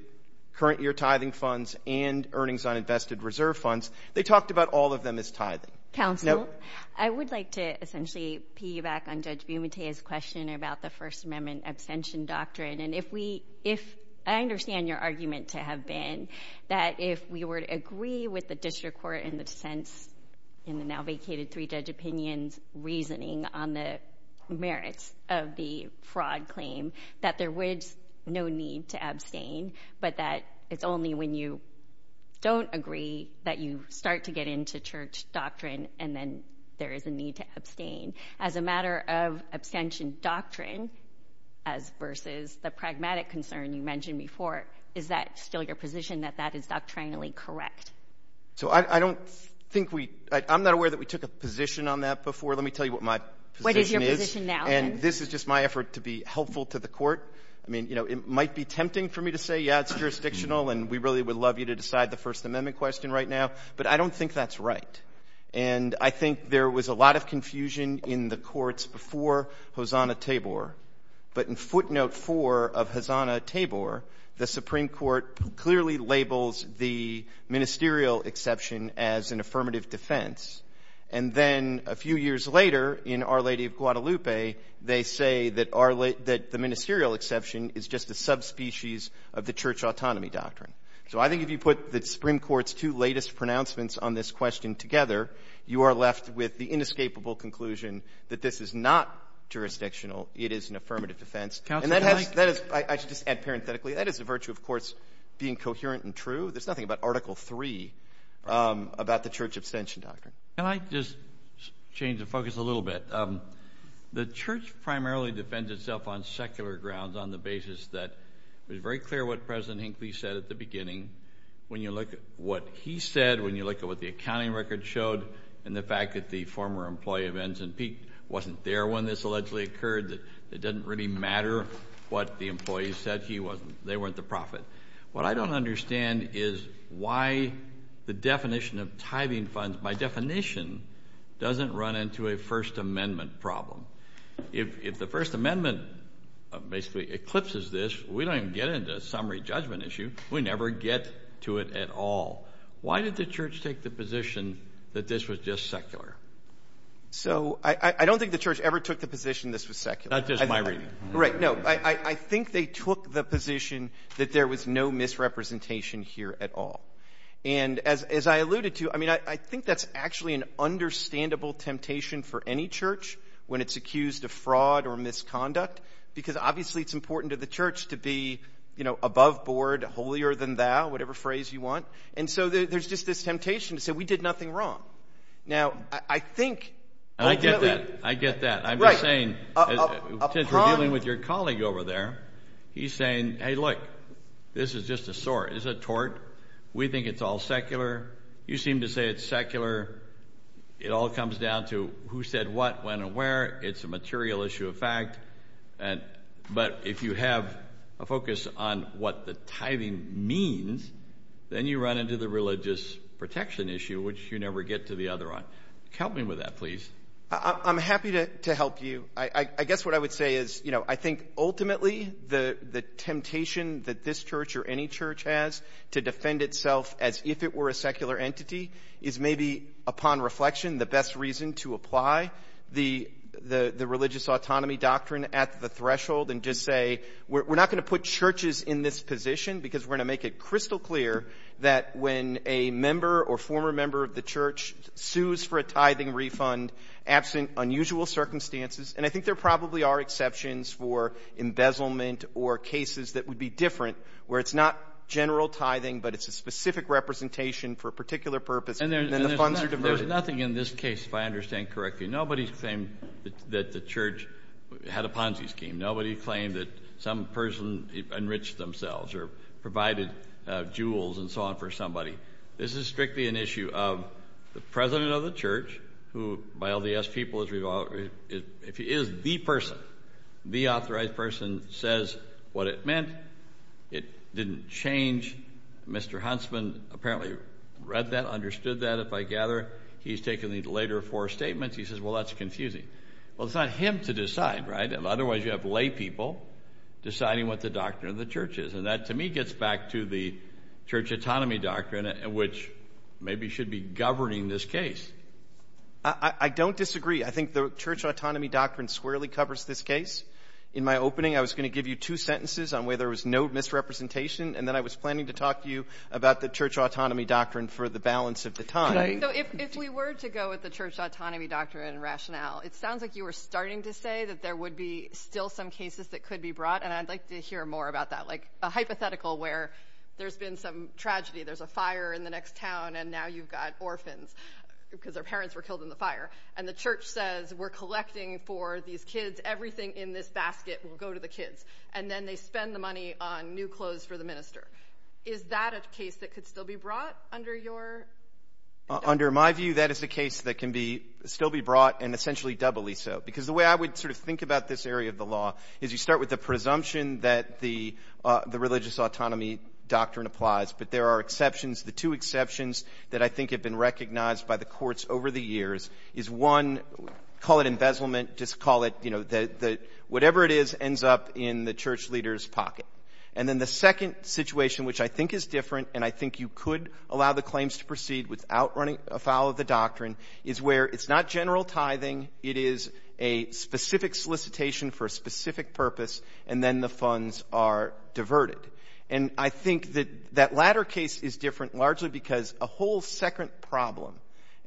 current year tithing funds and earnings on invested reserve funds. They talked about all of them as tithing. Counsel, I would like to essentially piggyback on Judge Bumatea's question about the First Amendment abstention doctrine. I understand your argument to have been that if we were to agree with the district court in the sense in the now vacated three-judge opinion's reasoning on the merits of the fraud claim, that there was no need to abstain, but that it's only when you don't agree that you start to get into church doctrine and then there is a need to abstain. As a matter of abstention doctrine versus the pragmatic concern you mentioned before, is that still your position that that is doctrinally correct? So I don't think we – I'm not aware that we took a position on that before. Let me tell you what my position is. What is your position now? And this is just my effort to be helpful to the court. I mean, you know, it might be tempting for me to say, yeah, it's jurisdictional and we really would love you to decide the First Amendment question right now, but I don't think that's right. And I think there was a lot of confusion in the courts before Hosanna-Tabor, but in footnote four of Hosanna-Tabor, the Supreme Court clearly labels the ministerial exception as an affirmative defense. And then a few years later in Our Lady of Guadalupe, they say that the ministerial exception is just a subspecies of the church autonomy doctrine. So I think if you put the Supreme Court's two latest pronouncements on this question together, you are left with the inescapable conclusion that this is not jurisdictional. It is an affirmative defense. And that has – I should just add parenthetically, that is the virtue of courts being coherent and true. There's nothing about Article III about the church abstention doctrine. Can I just change the focus a little bit? The church primarily defends itself on secular grounds on the basis that it was very clear what President Hinckley said at the beginning. When you look at what he said, when you look at what the accounting record showed, and the fact that the former employee of Enz and Peak wasn't there when this allegedly occurred, it doesn't really matter what the employees said. They weren't the prophet. What I don't understand is why the definition of tithing funds, by definition, doesn't run into a First Amendment problem. If the First Amendment basically eclipses this, we don't even get into summary judgment issue. We never get to it at all. Why did the church take the position that this was just secular? So I don't think the church ever took the position this was secular. Not just my reading. Right. No, I think they took the position that there was no misrepresentation here at all. And as I alluded to, I mean, I think that's actually an understandable temptation for any church when it's accused of fraud or misconduct because obviously it's important to the church to be, you know, above board, holier than thou, whatever phrase you want. And so there's just this temptation to say we did nothing wrong. Now, I think ultimately— I get that. I get that. I'm just saying, since we're dealing with your colleague over there, he's saying, hey, look, this is just a sort. Is it tort? We think it's all secular. You seem to say it's secular. It all comes down to who said what, when, and where. It's a material issue of fact. But if you have a focus on what the tithing means, then you run into the religious protection issue, which you never get to the other one. Help me with that, please. I'm happy to help you. I guess what I would say is, you know, I think ultimately the temptation that this church or any church has to defend itself as if it were a secular entity is maybe, upon reflection, the best reason to apply the religious autonomy doctrine at the threshold and just say we're not going to put churches in this position because we're going to make it crystal clear that when a member or former member of the church sues for a tithing refund absent unusual circumstances— and I think there probably are exceptions for embezzlement or cases that would be different, where it's not general tithing but it's a specific representation for a particular purpose and then the funds are diverted. There's nothing in this case, if I understand correctly, nobody's claimed that the church had a Ponzi scheme. Nobody claimed that some person enriched themselves or provided jewels and so on for somebody. This is strictly an issue of the president of the church who, by all the yes people, is the person, the authorized person says what it meant. It didn't change. Mr. Huntsman apparently read that, understood that, if I gather. He's taken these later four statements. He says, well, that's confusing. Well, it's not him to decide, right? Otherwise, you have laypeople deciding what the doctrine of the church is. And that, to me, gets back to the church autonomy doctrine, which maybe should be governing this case. I don't disagree. I think the church autonomy doctrine squarely covers this case. In my opening, I was going to give you two sentences on where there was no misrepresentation, and then I was planning to talk to you about the church autonomy doctrine for the balance of the time. So if we were to go with the church autonomy doctrine and rationale, it sounds like you were starting to say that there would be still some cases that could be brought, and I'd like to hear more about that, like a hypothetical where there's been some tragedy, there's a fire in the next town, and now you've got orphans because their parents were killed in the fire, and the church says we're collecting for these kids, everything in this basket will go to the kids, and then they spend the money on new clothes for the minister. Is that a case that could still be brought under your doctrine? Under my view, that is a case that can still be brought, and essentially doubly so, because the way I would sort of think about this area of the law is you start with the presumption that the religious autonomy doctrine applies, but there are exceptions. The two exceptions that I think have been recognized by the courts over the years is one, call it embezzlement, just call it, you know, whatever it is ends up in the church leader's pocket. And then the second situation, which I think is different, and I think you could allow the claims to proceed without running afoul of the doctrine, is where it's not general tithing, it is a specific solicitation for a specific purpose, and then the funds are diverted. And I think that that latter case is different largely because a whole second problem,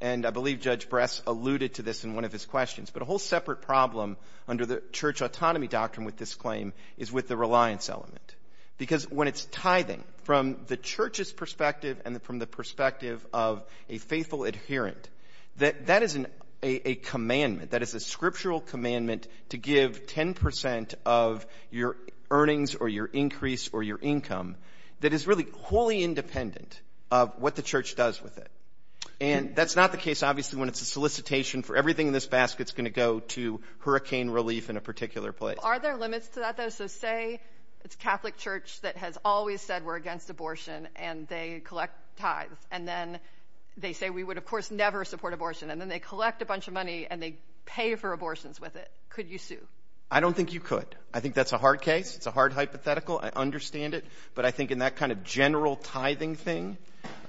and I believe Judge Bress alluded to this in one of his questions, but a whole separate problem under the church autonomy doctrine with this claim is with the reliance element. Because when it's tithing, from the church's perspective and from the perspective of a faithful adherent, that is a commandment, that is a scriptural commandment to give 10 percent of your earnings or your increase or your income that is really wholly independent of what the church does with it. And that's not the case, obviously, when it's a solicitation for everything in this basket is going to go to hurricane relief in a particular place. Are there limits to that, though? So say it's a Catholic church that has always said we're against abortion and they collect tithes, and then they say we would, of course, never support abortion, and then they collect a bunch of money and they pay for abortions with it. Could you sue? I don't think you could. I think that's a hard case. It's a hard hypothetical. I understand it. But I think in that kind of general tithing thing, you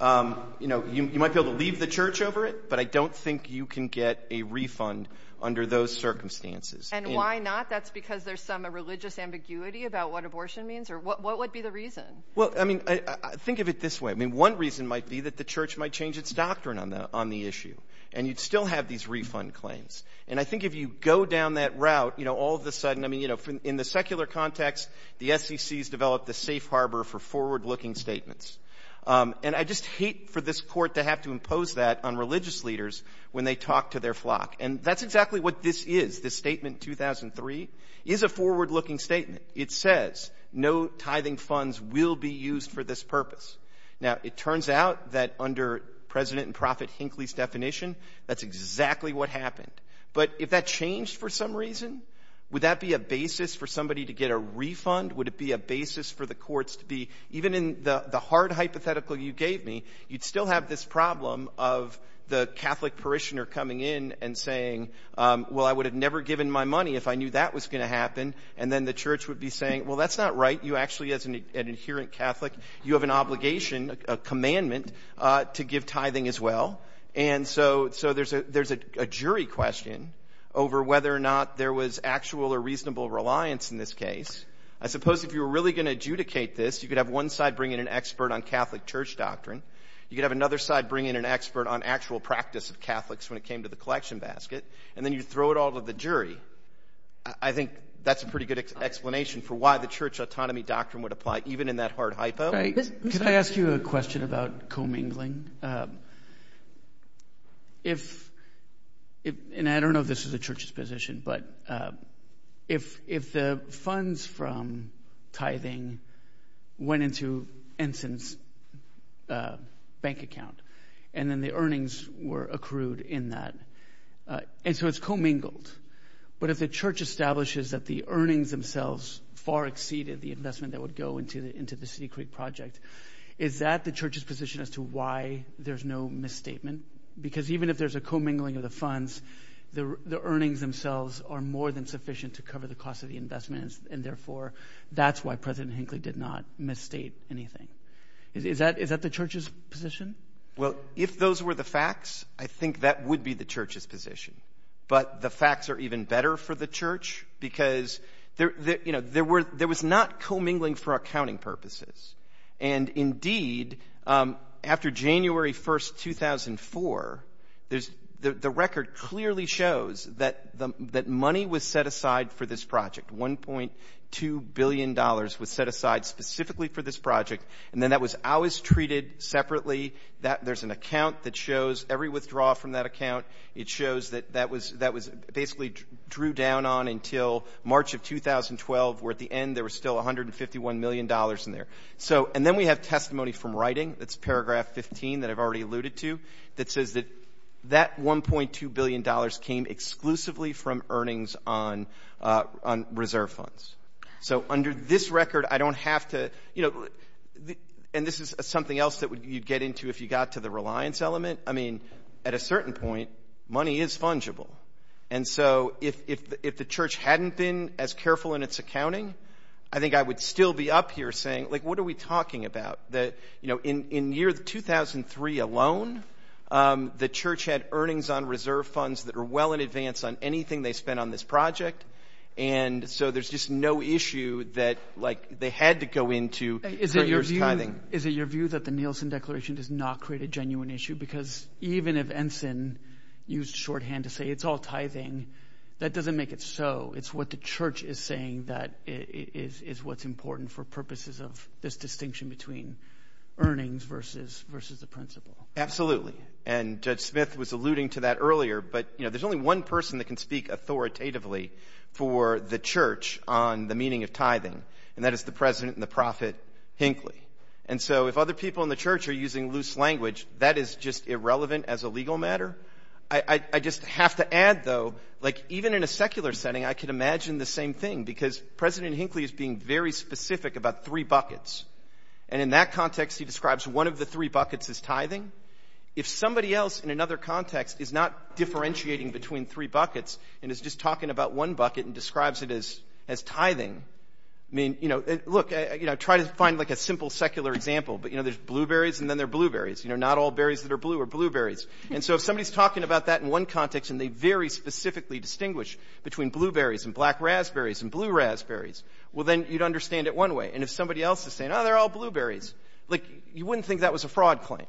know, you might be able to leave the church over it, but I don't think you can get a refund under those circumstances. And why not? That's because there's some religious ambiguity about what abortion means? Or what would be the reason? Well, I mean, think of it this way. I mean, one reason might be that the church might change its doctrine on the issue, and you'd still have these refund claims. And I think if you go down that route, you know, all of a sudden, I mean, you know, in the secular context, the SEC has developed a safe harbor for forward-looking statements. And I just hate for this court to have to impose that on religious leaders when they talk to their flock. And that's exactly what this is. This statement 2003 is a forward-looking statement. It says no tithing funds will be used for this purpose. Now, it turns out that under President and Prophet Hinckley's definition, that's exactly what happened. But if that changed for some reason, would that be a basis for somebody to get a refund? Would it be a basis for the courts to be, even in the hard hypothetical you gave me, you'd still have this problem of the Catholic parishioner coming in and saying, well, I would have never given my money if I knew that was going to happen. And then the church would be saying, well, that's not right. You actually, as an adherent Catholic, you have an obligation, a commandment to give tithing as well. And so there's a jury question over whether or not there was actual or reasonable reliance in this case. I suppose if you were really going to adjudicate this, you could have one side bring in an expert on Catholic church doctrine. You could have another side bring in an expert on actual practice of Catholics when it came to the collection basket. And then you throw it all to the jury. I think that's a pretty good explanation for why the church autonomy doctrine would apply, even in that hard hypo. Could I ask you a question about commingling? And I don't know if this is the church's position, but if the funds from tithing went into Ensign's bank account and then the earnings were accrued in that, and so it's commingled. But if the church establishes that the earnings themselves far exceeded the investment that would go into the City Creek project, is that the church's position as to why there's no misstatement? Because even if there's a commingling of the funds, the earnings themselves are more than sufficient to cover the cost of the investments, and therefore that's why President Hinckley did not misstate anything. Is that the church's position? Well, if those were the facts, I think that would be the church's position. But the facts are even better for the church because, you know, there was not commingling for accounting purposes. And, indeed, after January 1, 2004, the record clearly shows that money was set aside for this project. $1.2 billion was set aside specifically for this project, and then that was always treated separately. There's an account that shows every withdrawal from that account. It shows that that was basically drew down on until March of 2012, where at the end there was still $151 million in there. And then we have testimony from writing. That's paragraph 15 that I've already alluded to that says that that $1.2 billion came exclusively from earnings on reserve funds. So under this record, I don't have to, you know, and this is something else that you'd get into if you got to the reliance element. I mean, at a certain point, money is fungible. And so if the church hadn't been as careful in its accounting, I think I would still be up here saying, like, what are we talking about? That, you know, in year 2003 alone, the church had earnings on reserve funds that were well in advance on anything they spent on this project. And so there's just no issue that, like, they had to go into for years tithing. Is it your view that the Nielsen Declaration does not create a genuine issue? Because even if Ensign used shorthand to say it's all tithing, that doesn't make it so. It's what the church is saying that is what's important for purposes of this distinction between earnings versus the principle. Absolutely. And Judge Smith was alluding to that earlier. But, you know, there's only one person that can speak authoritatively for the church on the meaning of tithing, and that is the President and the Prophet Hinckley. And so if other people in the church are using loose language, that is just irrelevant as a legal matter. I just have to add, though, like, even in a secular setting, I can imagine the same thing, because President Hinckley is being very specific about three buckets. And in that context, he describes one of the three buckets as tithing. If somebody else in another context is not differentiating between three buckets and is just talking about one bucket and describes it as tithing, I mean, you know, look, try to find, like, a simple secular example, but, you know, there's blueberries and then there are blueberries. You know, not all berries that are blue are blueberries. And so if somebody is talking about that in one context and they very specifically distinguish between blueberries and black raspberries and blue raspberries, well, then you'd understand it one way. And if somebody else is saying, oh, they're all blueberries, like, you wouldn't think that was a fraud claim.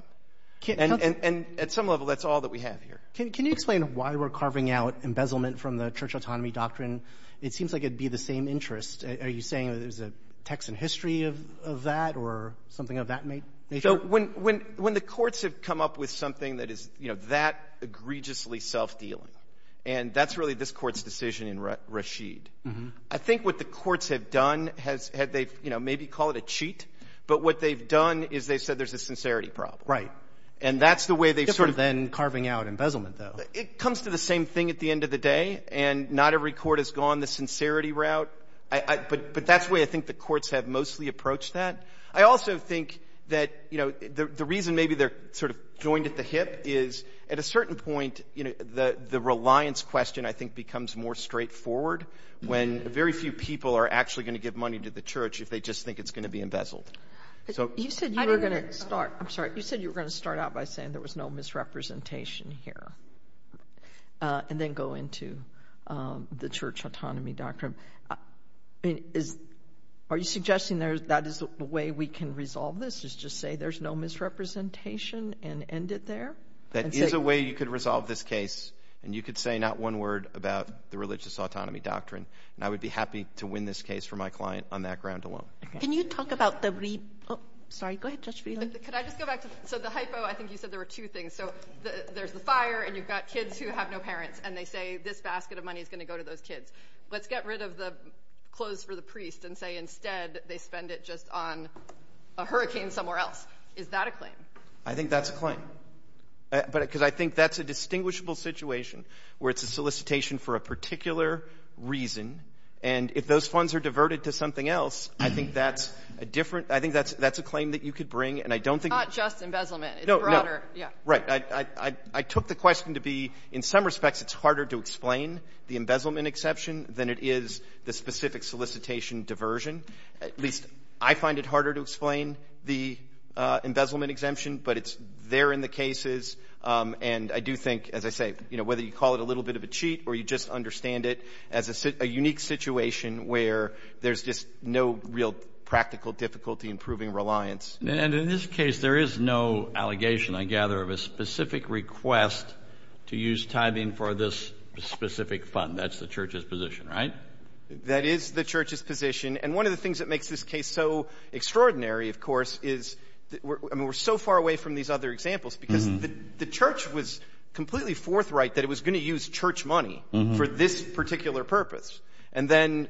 And at some level, that's all that we have here. Can you explain why we're carving out embezzlement from the church autonomy doctrine? It seems like it would be the same interest. Are you saying there's a text and history of that or something of that nature? So when the courts have come up with something that is, you know, that egregiously self-dealing, and that's really this court's decision in Rashid, I think what the courts have done has had they, you know, maybe call it a cheat, but what they've done is they've said there's a sincerity problem. Right. And that's the way they've sort of been carving out embezzlement, though. It comes to the same thing at the end of the day, and not every court has gone the sincerity route. But that's the way I think the courts have mostly approached that. I also think that, you know, the reason maybe they're sort of joined at the hip is at a certain point, you know, the reliance question I think becomes more straightforward when very few people are actually going to give money to the church if they just think it's going to be embezzled. So you said you were going to start. I'm sorry. You said you were going to start out by saying there was no misrepresentation here and then go into the church autonomy doctrine. Are you suggesting that is the way we can resolve this is just say there's no misrepresentation and end it there? That is a way you could resolve this case, and you could say not one word about the religious autonomy doctrine, and I would be happy to win this case for my client on that ground alone. Can you talk about the – oh, sorry. Go ahead, Judge Freeland. Could I just go back to – so the hypo, I think you said there were two things. So there's the fire, and you've got kids who have no parents, and they say this basket of money is going to go to those kids. Let's get rid of the clothes for the priest and say instead they spend it just on a hurricane somewhere else. Is that a claim? I think that's a claim because I think that's a distinguishable situation where it's a solicitation for a particular reason, and if those funds are diverted to something else, I think that's a different – I think that's a claim that you could bring, and I don't think – Not just embezzlement. No, no. It's broader. Right. I took the question to be in some respects it's harder to explain the embezzlement exception than it is the specific solicitation diversion. At least I find it harder to explain the embezzlement exemption, but it's there in the cases, and I do think, as I say, whether you call it a little bit of a cheat or you just understand it as a unique situation where there's just no real practical difficulty in proving reliance. And in this case, there is no allegation, I gather, of a specific request to use tithing for this specific fund. That's the church's position, right? That is the church's position, and one of the things that makes this case so extraordinary, of course, I mean, we're so far away from these other examples because the church was completely forthright that it was going to use church money for this particular purpose, and then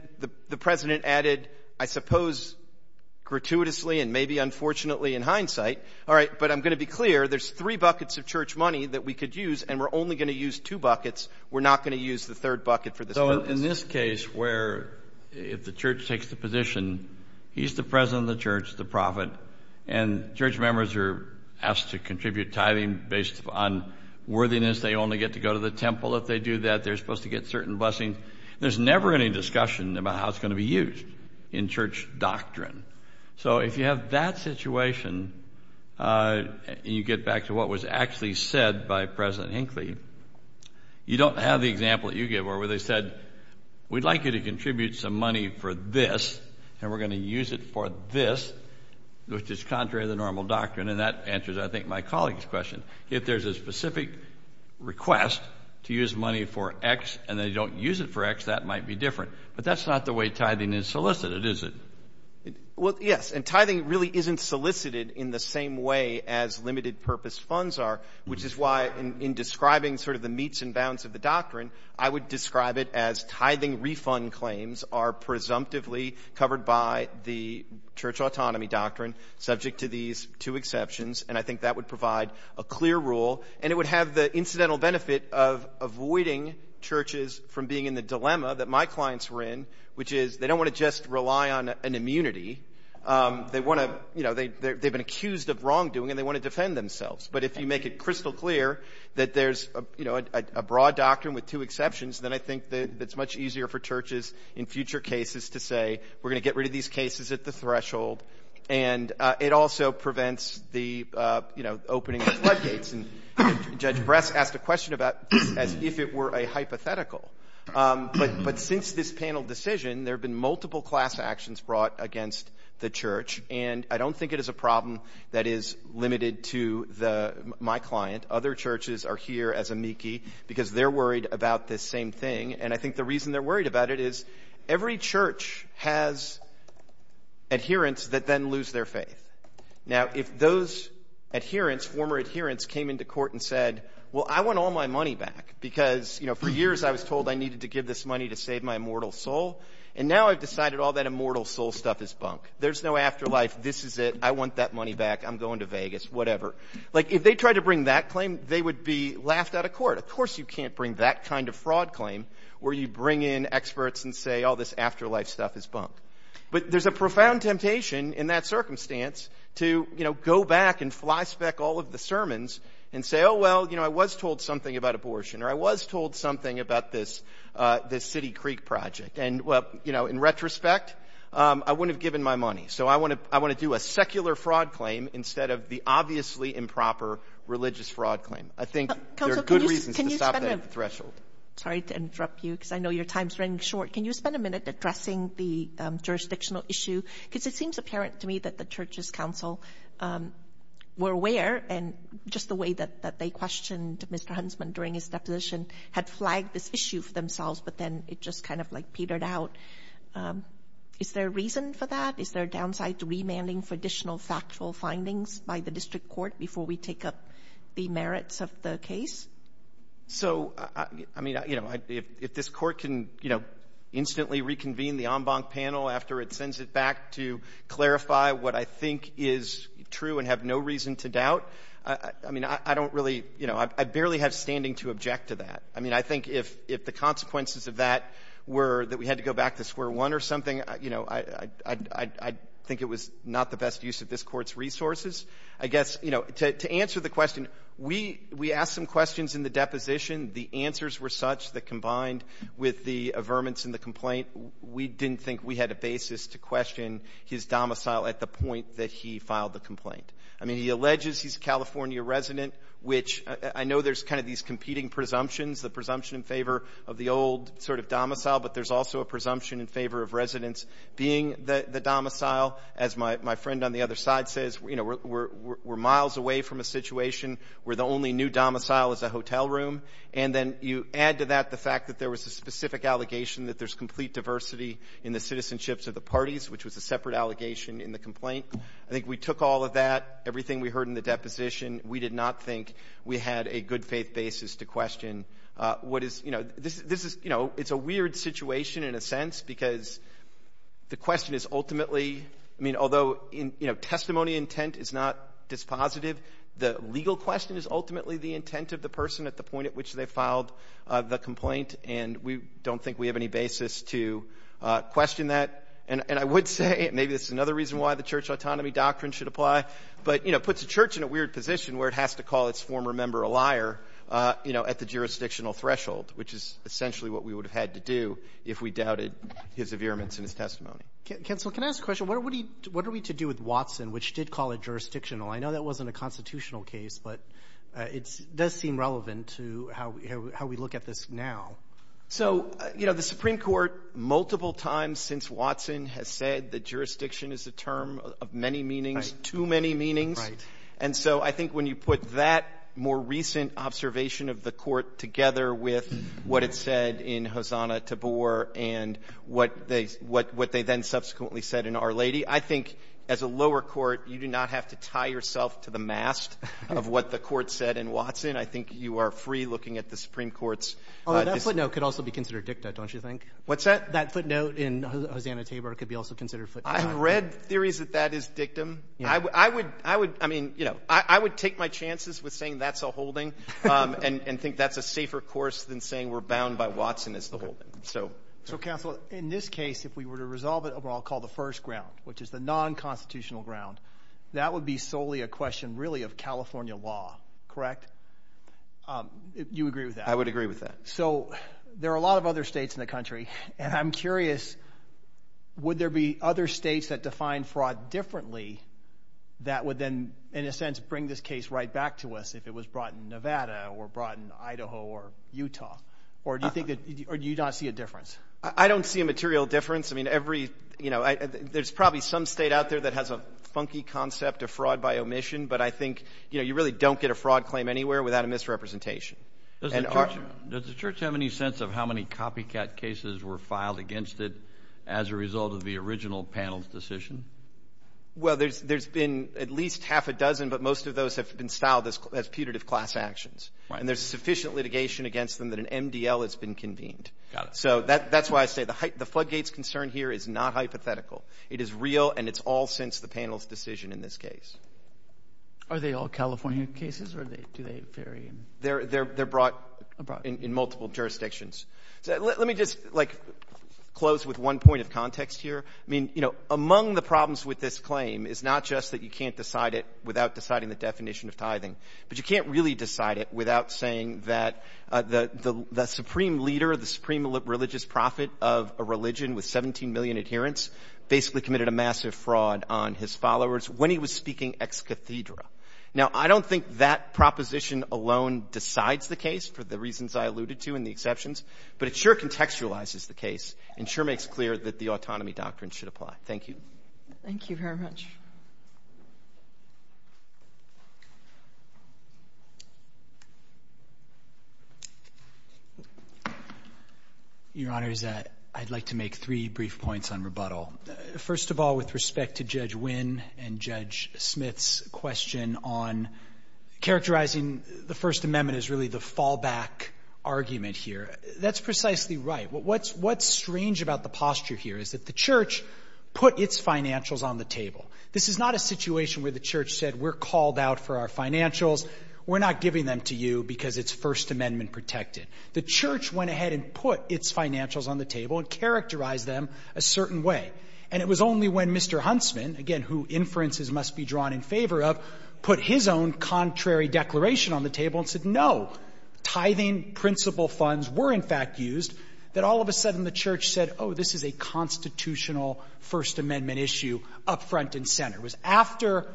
the president added, I suppose, gratuitously and maybe unfortunately in hindsight, all right, but I'm going to be clear, there's three buckets of church money that we could use, and we're only going to use two buckets. We're not going to use the third bucket for this purpose. Well, in this case where if the church takes the position, he's the president of the church, the prophet, and church members are asked to contribute tithing based on worthiness. They only get to go to the temple if they do that. They're supposed to get certain blessings. There's never any discussion about how it's going to be used in church doctrine. So if you have that situation and you get back to what was actually said by President Hinckley, you don't have the example that you gave where they said, we'd like you to contribute some money for this, and we're going to use it for this, which is contrary to the normal doctrine, and that answers, I think, my colleague's question. If there's a specific request to use money for X and they don't use it for X, that might be different, but that's not the way tithing is solicited, is it? Well, yes, and tithing really isn't solicited in the same way as limited purpose funds are, which is why in describing sort of the meets and bounds of the doctrine, I would describe it as tithing refund claims are presumptively covered by the church autonomy doctrine, subject to these two exceptions, and I think that would provide a clear rule, and it would have the incidental benefit of avoiding churches from being in the dilemma that my clients were in, which is they don't want to just rely on an immunity. They want to, you know, they've been accused of wrongdoing, and they want to defend themselves. But if you make it crystal clear that there's, you know, a broad doctrine with two exceptions, then I think that it's much easier for churches in future cases to say, we're going to get rid of these cases at the threshold, and it also prevents the, you know, opening of floodgates. And Judge Bress asked a question about this as if it were a hypothetical. But since this panel decision, there have been multiple class actions brought against the church, and I don't think it is a problem that is limited to my client. Other churches are here as amici because they're worried about this same thing, and I think the reason they're worried about it is every church has adherents that then lose their faith. Now, if those adherents, former adherents, came into court and said, well, I want all my money back because, you know, for years I was told I needed to give this money to save my immortal soul, and now I've decided all that immortal soul stuff is bunk. There's no afterlife. This is it. I want that money back. I'm going to Vegas, whatever. Like, if they tried to bring that claim, they would be laughed out of court. Of course you can't bring that kind of fraud claim where you bring in experts and say all this afterlife stuff is bunk. But there's a profound temptation in that circumstance to, you know, go back and flyspeck all of the sermons and say, oh, well, you know, I was told something about abortion or I was told something about this City Creek project. And, well, you know, in retrospect, I wouldn't have given my money. So I want to do a secular fraud claim instead of the obviously improper religious fraud claim. I think there are good reasons to stop that at the threshold. Sorry to interrupt you because I know your time is running short. Can you spend a minute addressing the jurisdictional issue? Because it seems apparent to me that the church's counsel were aware, and just the way that they questioned Mr. Huntsman during his deposition had flagged this issue for themselves, but then it just kind of, like, petered out. Is there a reason for that? Is there a downside to remanding for additional factual findings by the district court before we take up the merits of the case? So, I mean, you know, if this Court can, you know, instantly reconvene the en banc panel after it sends it back to clarify what I think is true and have no reason to doubt, I mean, I don't really, you know, I barely have standing to object to that. I mean, I think if the consequences of that were that we had to go back to square one or something, you know, I think it was not the best use of this Court's resources. I guess, you know, to answer the question, we asked some questions in the deposition. The answers were such that combined with the averments in the complaint, we didn't think we had a basis to question his domicile at the point that he filed the complaint. I mean, he alleges he's a California resident, which I know there's kind of these competing presumptions, the presumption in favor of the old sort of domicile, but there's also a presumption in favor of residents being the domicile. As my friend on the other side says, you know, we're miles away from a situation where the only new domicile is a hotel room. And then you add to that the fact that there was a specific allegation that there's complete diversity in the citizenships of the parties, which was a separate allegation in the complaint. I think we took all of that, everything we heard in the deposition. We did not think we had a good faith basis to question what is, you know, this is, you know, it's a weird situation in a sense because the question is ultimately, I mean, although testimony intent is not dispositive, the legal question is ultimately the intent of the person at the point at which they filed the complaint, and we don't think we have any basis to question that. And I would say maybe this is another reason why the church autonomy doctrine should apply. But, you know, it puts a church in a weird position where it has to call its former member a liar, you know, at the jurisdictional threshold, which is essentially what we would have had to do if we doubted his affirmance in his testimony. Counsel, can I ask a question? What are we to do with Watson, which did call it jurisdictional? I know that wasn't a constitutional case, but it does seem relevant to how we look at this now. So, you know, the Supreme Court multiple times since Watson has said that jurisdiction is a term of many meanings, too many meanings. Right. And so I think when you put that more recent observation of the court together with what it said in Hosanna Tabor and what they then subsequently said in Our Lady, I think as a lower court, you do not have to tie yourself to the mast of what the court said in Watson. I think you are free looking at the Supreme Court's decision. That footnote could also be considered dicta, don't you think? What's that? That footnote in Hosanna Tabor could be also considered footnote. I have read theories that that is dictum. I would take my chances with saying that's a holding and think that's a safer course than saying we're bound by Watson as the holding. So, Counsel, in this case, if we were to resolve it over what I'll call the first ground, which is the nonconstitutional ground, that would be solely a question really of California law, correct? You agree with that? I would agree with that. So there are a lot of other states in the country, and I'm curious would there be other states that define fraud differently that would then, in a sense, bring this case right back to us if it was brought in Nevada or brought in Idaho or Utah? Or do you not see a difference? I don't see a material difference. I mean, there's probably some state out there that has a funky concept of fraud by omission, but I think you really don't get a fraud claim anywhere without a misrepresentation. Does the Church have any sense of how many copycat cases were filed against it as a result of the original panel's decision? Well, there's been at least half a dozen, but most of those have been styled as putative class actions, and there's sufficient litigation against them that an MDL has been convened. So that's why I say the floodgates concern here is not hypothetical. It is real, and it's all since the panel's decision in this case. Are they all California cases, or do they vary? They're brought in multiple jurisdictions. Let me just, like, close with one point of context here. I mean, you know, among the problems with this claim is not just that you can't decide it without deciding the definition of tithing, but you can't really decide it without saying that the supreme leader, the supreme religious prophet of a religion with 17 million adherents basically committed a massive fraud on his followers when he was speaking ex cathedra. Now, I don't think that proposition alone decides the case for the reasons I alluded to and the exceptions, but it sure contextualizes the case and sure makes clear that the autonomy doctrine should apply. Thank you. Thank you very much. Your Honor, I'd like to make three brief points on rebuttal. First of all, with respect to Judge Wynn and Judge Smith's question on characterizing the First Amendment as really the fallback argument here, that's precisely right. What's strange about the posture here is that the Church put its financials on the table. This is not a situation where the Church said we're called out for our financials, we're not giving them to you because it's First Amendment protected. The Church went ahead and put its financials on the table and characterized them a certain way. And it was only when Mr. Huntsman, again, who inferences must be drawn in favor of, put his own contrary declaration on the table and said no, tithing principal funds were, in fact, used, that all of a sudden the Church said, oh, this is a constitutional First Amendment issue up front and center. It was after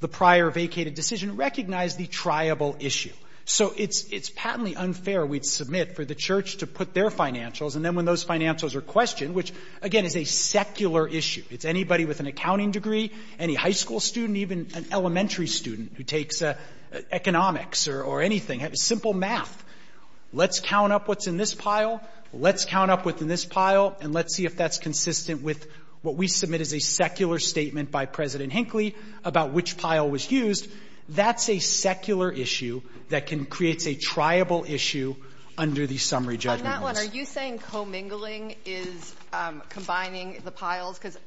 the prior vacated decision recognized the triable issue. So it's patently unfair we'd submit for the Church to put their financials, and then when those financials are questioned, which, again, is a secular issue. It's anybody with an accounting degree, any high school student, even an elementary student who takes economics or anything, simple math. Let's count up what's in this pile, let's count up what's in this pile, and let's see if that's consistent with what we submit as a secular statement by President Hinckley about which pile was used. That's a secular issue that can create a triable issue under the summary judgment. And on that one, are you saying commingling is combining the piles? Because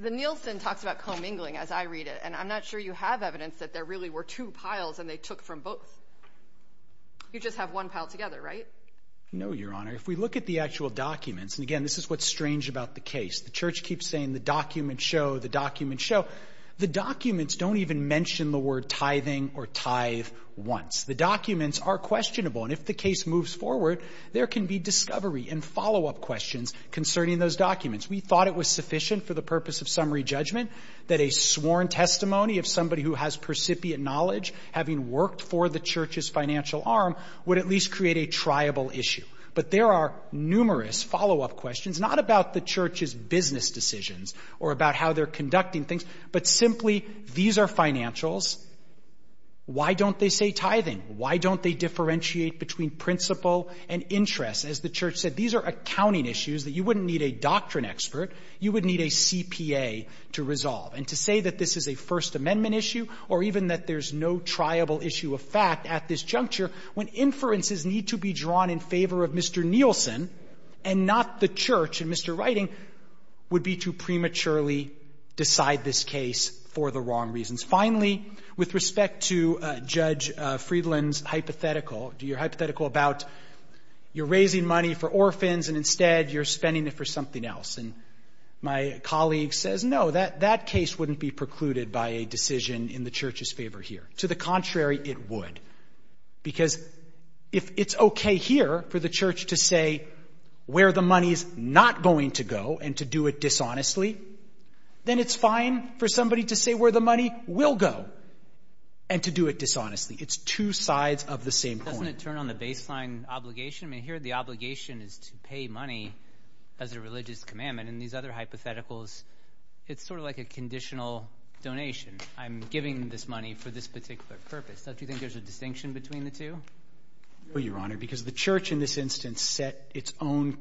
the Nielsen talks about commingling as I read it, and I'm not sure you have evidence that there really were two piles and they took from both. You just have one pile together, right? No, Your Honor. If we look at the actual documents, and again, this is what's strange about the case. The Church keeps saying the documents show, the documents show. The documents don't even mention the word tithing or tithe once. The documents are questionable, and if the case moves forward, there can be discovery and follow-up questions concerning those documents. We thought it was sufficient for the purpose of summary judgment that a sworn testimony of somebody who has percipient knowledge, having worked for the Church's financial arm, would at least create a triable issue. But there are numerous follow-up questions, not about the Church's business decisions or about how they're conducting things, but simply, these are financials. Why don't they say tithing? Why don't they differentiate between principle and interest? As the Church said, these are accounting issues that you wouldn't need a doctrine expert, you would need a CPA to resolve. And to say that this is a First Amendment issue or even that there's no triable issue of fact at this juncture, when inferences need to be drawn in favor of Mr. Nielsen and not the Church and Mr. Writing, would be to prematurely decide this case for the wrong reasons. Finally, with respect to Judge Friedland's hypothetical, your hypothetical about you're raising money for orphans and instead you're spending it for something else. And my colleague says, no, that case wouldn't be precluded by a decision in the Church's favor here. To the contrary, it would, because if it's okay here for the Church to say where the money is not going to go and to do it dishonestly, then it's fine for somebody to say where the money will go and to do it dishonestly. It's two sides of the same coin. Doesn't it turn on the baseline obligation? I mean, here the obligation is to pay money as a religious commandment. In these other hypotheticals, it's sort of like a conditional donation. I'm giving this money for this particular purpose. Don't you think there's a distinction between the two? No, Your Honor, because the Church in this instance set its own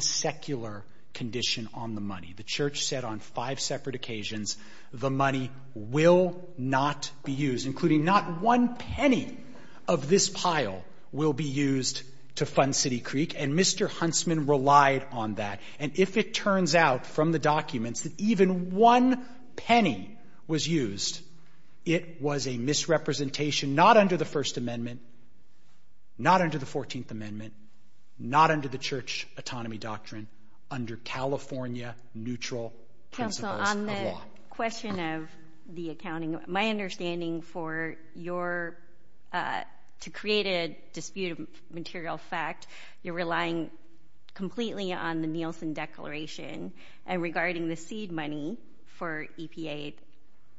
secular condition on the money. The Church said on five separate occasions the money will not be used, including not one penny of this pile will be used to fund City Creek, and Mr. Huntsman relied on that. And if it turns out from the documents that even one penny was used, it was a misrepresentation not under the First Amendment, not under the Fourteenth Amendment, not under the Church autonomy doctrine, under California neutral principles of law. Counsel, on the question of the accounting, my understanding for your to create a disputed material fact, you're relying completely on the Nielsen Declaration and regarding the seed money for EPA.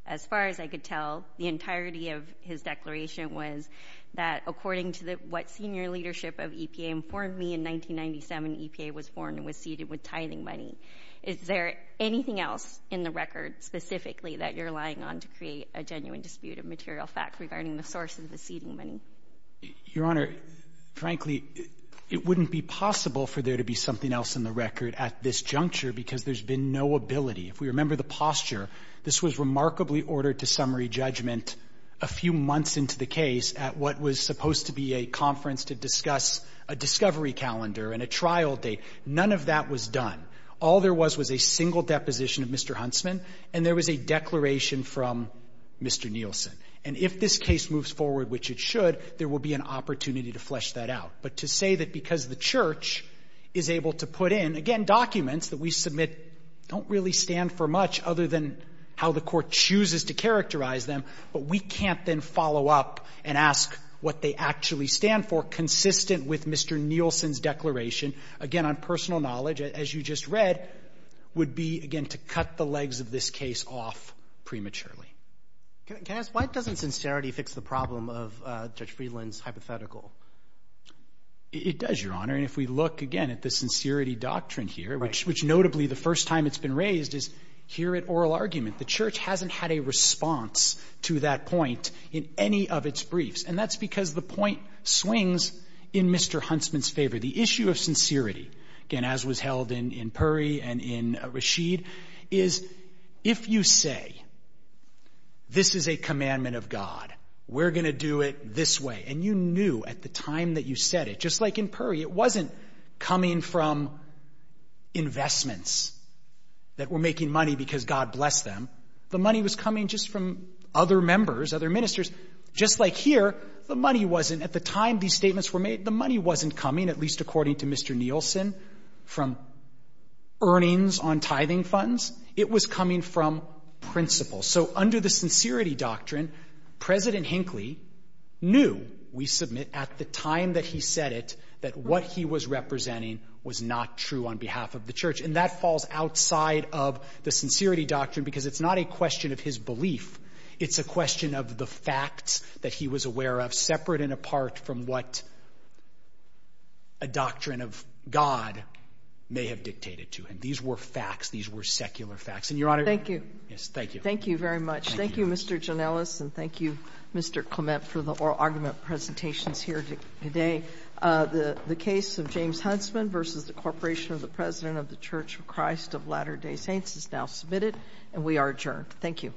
As far as I could tell, the entirety of his declaration was that, according to what senior leadership of EPA informed me in 1997, EPA was born and was seeded with tithing money. Is there anything else in the record specifically that you're relying on to create a genuine disputed material fact regarding the source of the seeding money? Your Honor, frankly, it wouldn't be possible for there to be something else in the record at this juncture because there's been no ability. If we remember the posture, this was remarkably ordered to summary judgment a few months into the case at what was supposed to be a conference to discuss a discovery calendar and a trial date. None of that was done. All there was was a single deposition of Mr. Huntsman, and there was a declaration from Mr. Nielsen. And if this case moves forward, which it should, there will be an opportunity to flesh that out. But to say that because the Church is able to put in, again, documents that we submit don't really stand for much other than how the Court chooses to characterize them, but we can't then follow up and ask what they actually stand for consistently with Mr. Nielsen's declaration, again, on personal knowledge, as you just read, would be, again, to cut the legs of this case off prematurely. Can I ask, why doesn't sincerity fix the problem of Judge Friedland's hypothetical? It does, Your Honor. And if we look, again, at the sincerity doctrine here, which notably the first time it's been raised is here at oral argument. The Church hasn't had a response to that point in any of its briefs. And that's because the point swings in Mr. Huntsman's favor. The issue of sincerity, again, as was held in Puri and in Rashid, is if you say this is a commandment of God, we're going to do it this way, and you knew at the time that you said it, just like in Puri, it wasn't coming from investments that were making money because God blessed them. The money was coming just from other members, other ministers. Just like here, the money wasn't, at the time these statements were made, the money wasn't coming, at least according to Mr. Nielsen, from earnings on tithing funds. It was coming from principles. So under the sincerity doctrine, President Hinckley knew, we submit, at the time that he said it, that what he was representing was not true on behalf of the Church. And that falls outside of the sincerity doctrine because it's not a question of his belief. It's a question of the facts that he was aware of, separate and apart from what a doctrine of God may have dictated to him. These were facts. These were secular facts. And, Your Honor, thank you. Thank you very much. Thank you, Mr. Janellis, and thank you, Mr. Clement, for the oral argument presentations here today. The case of James Huntsman v. The Corporation of the President of the Church of Christ of Latter-day Saints is now submitted, and we are adjourned. Thank you.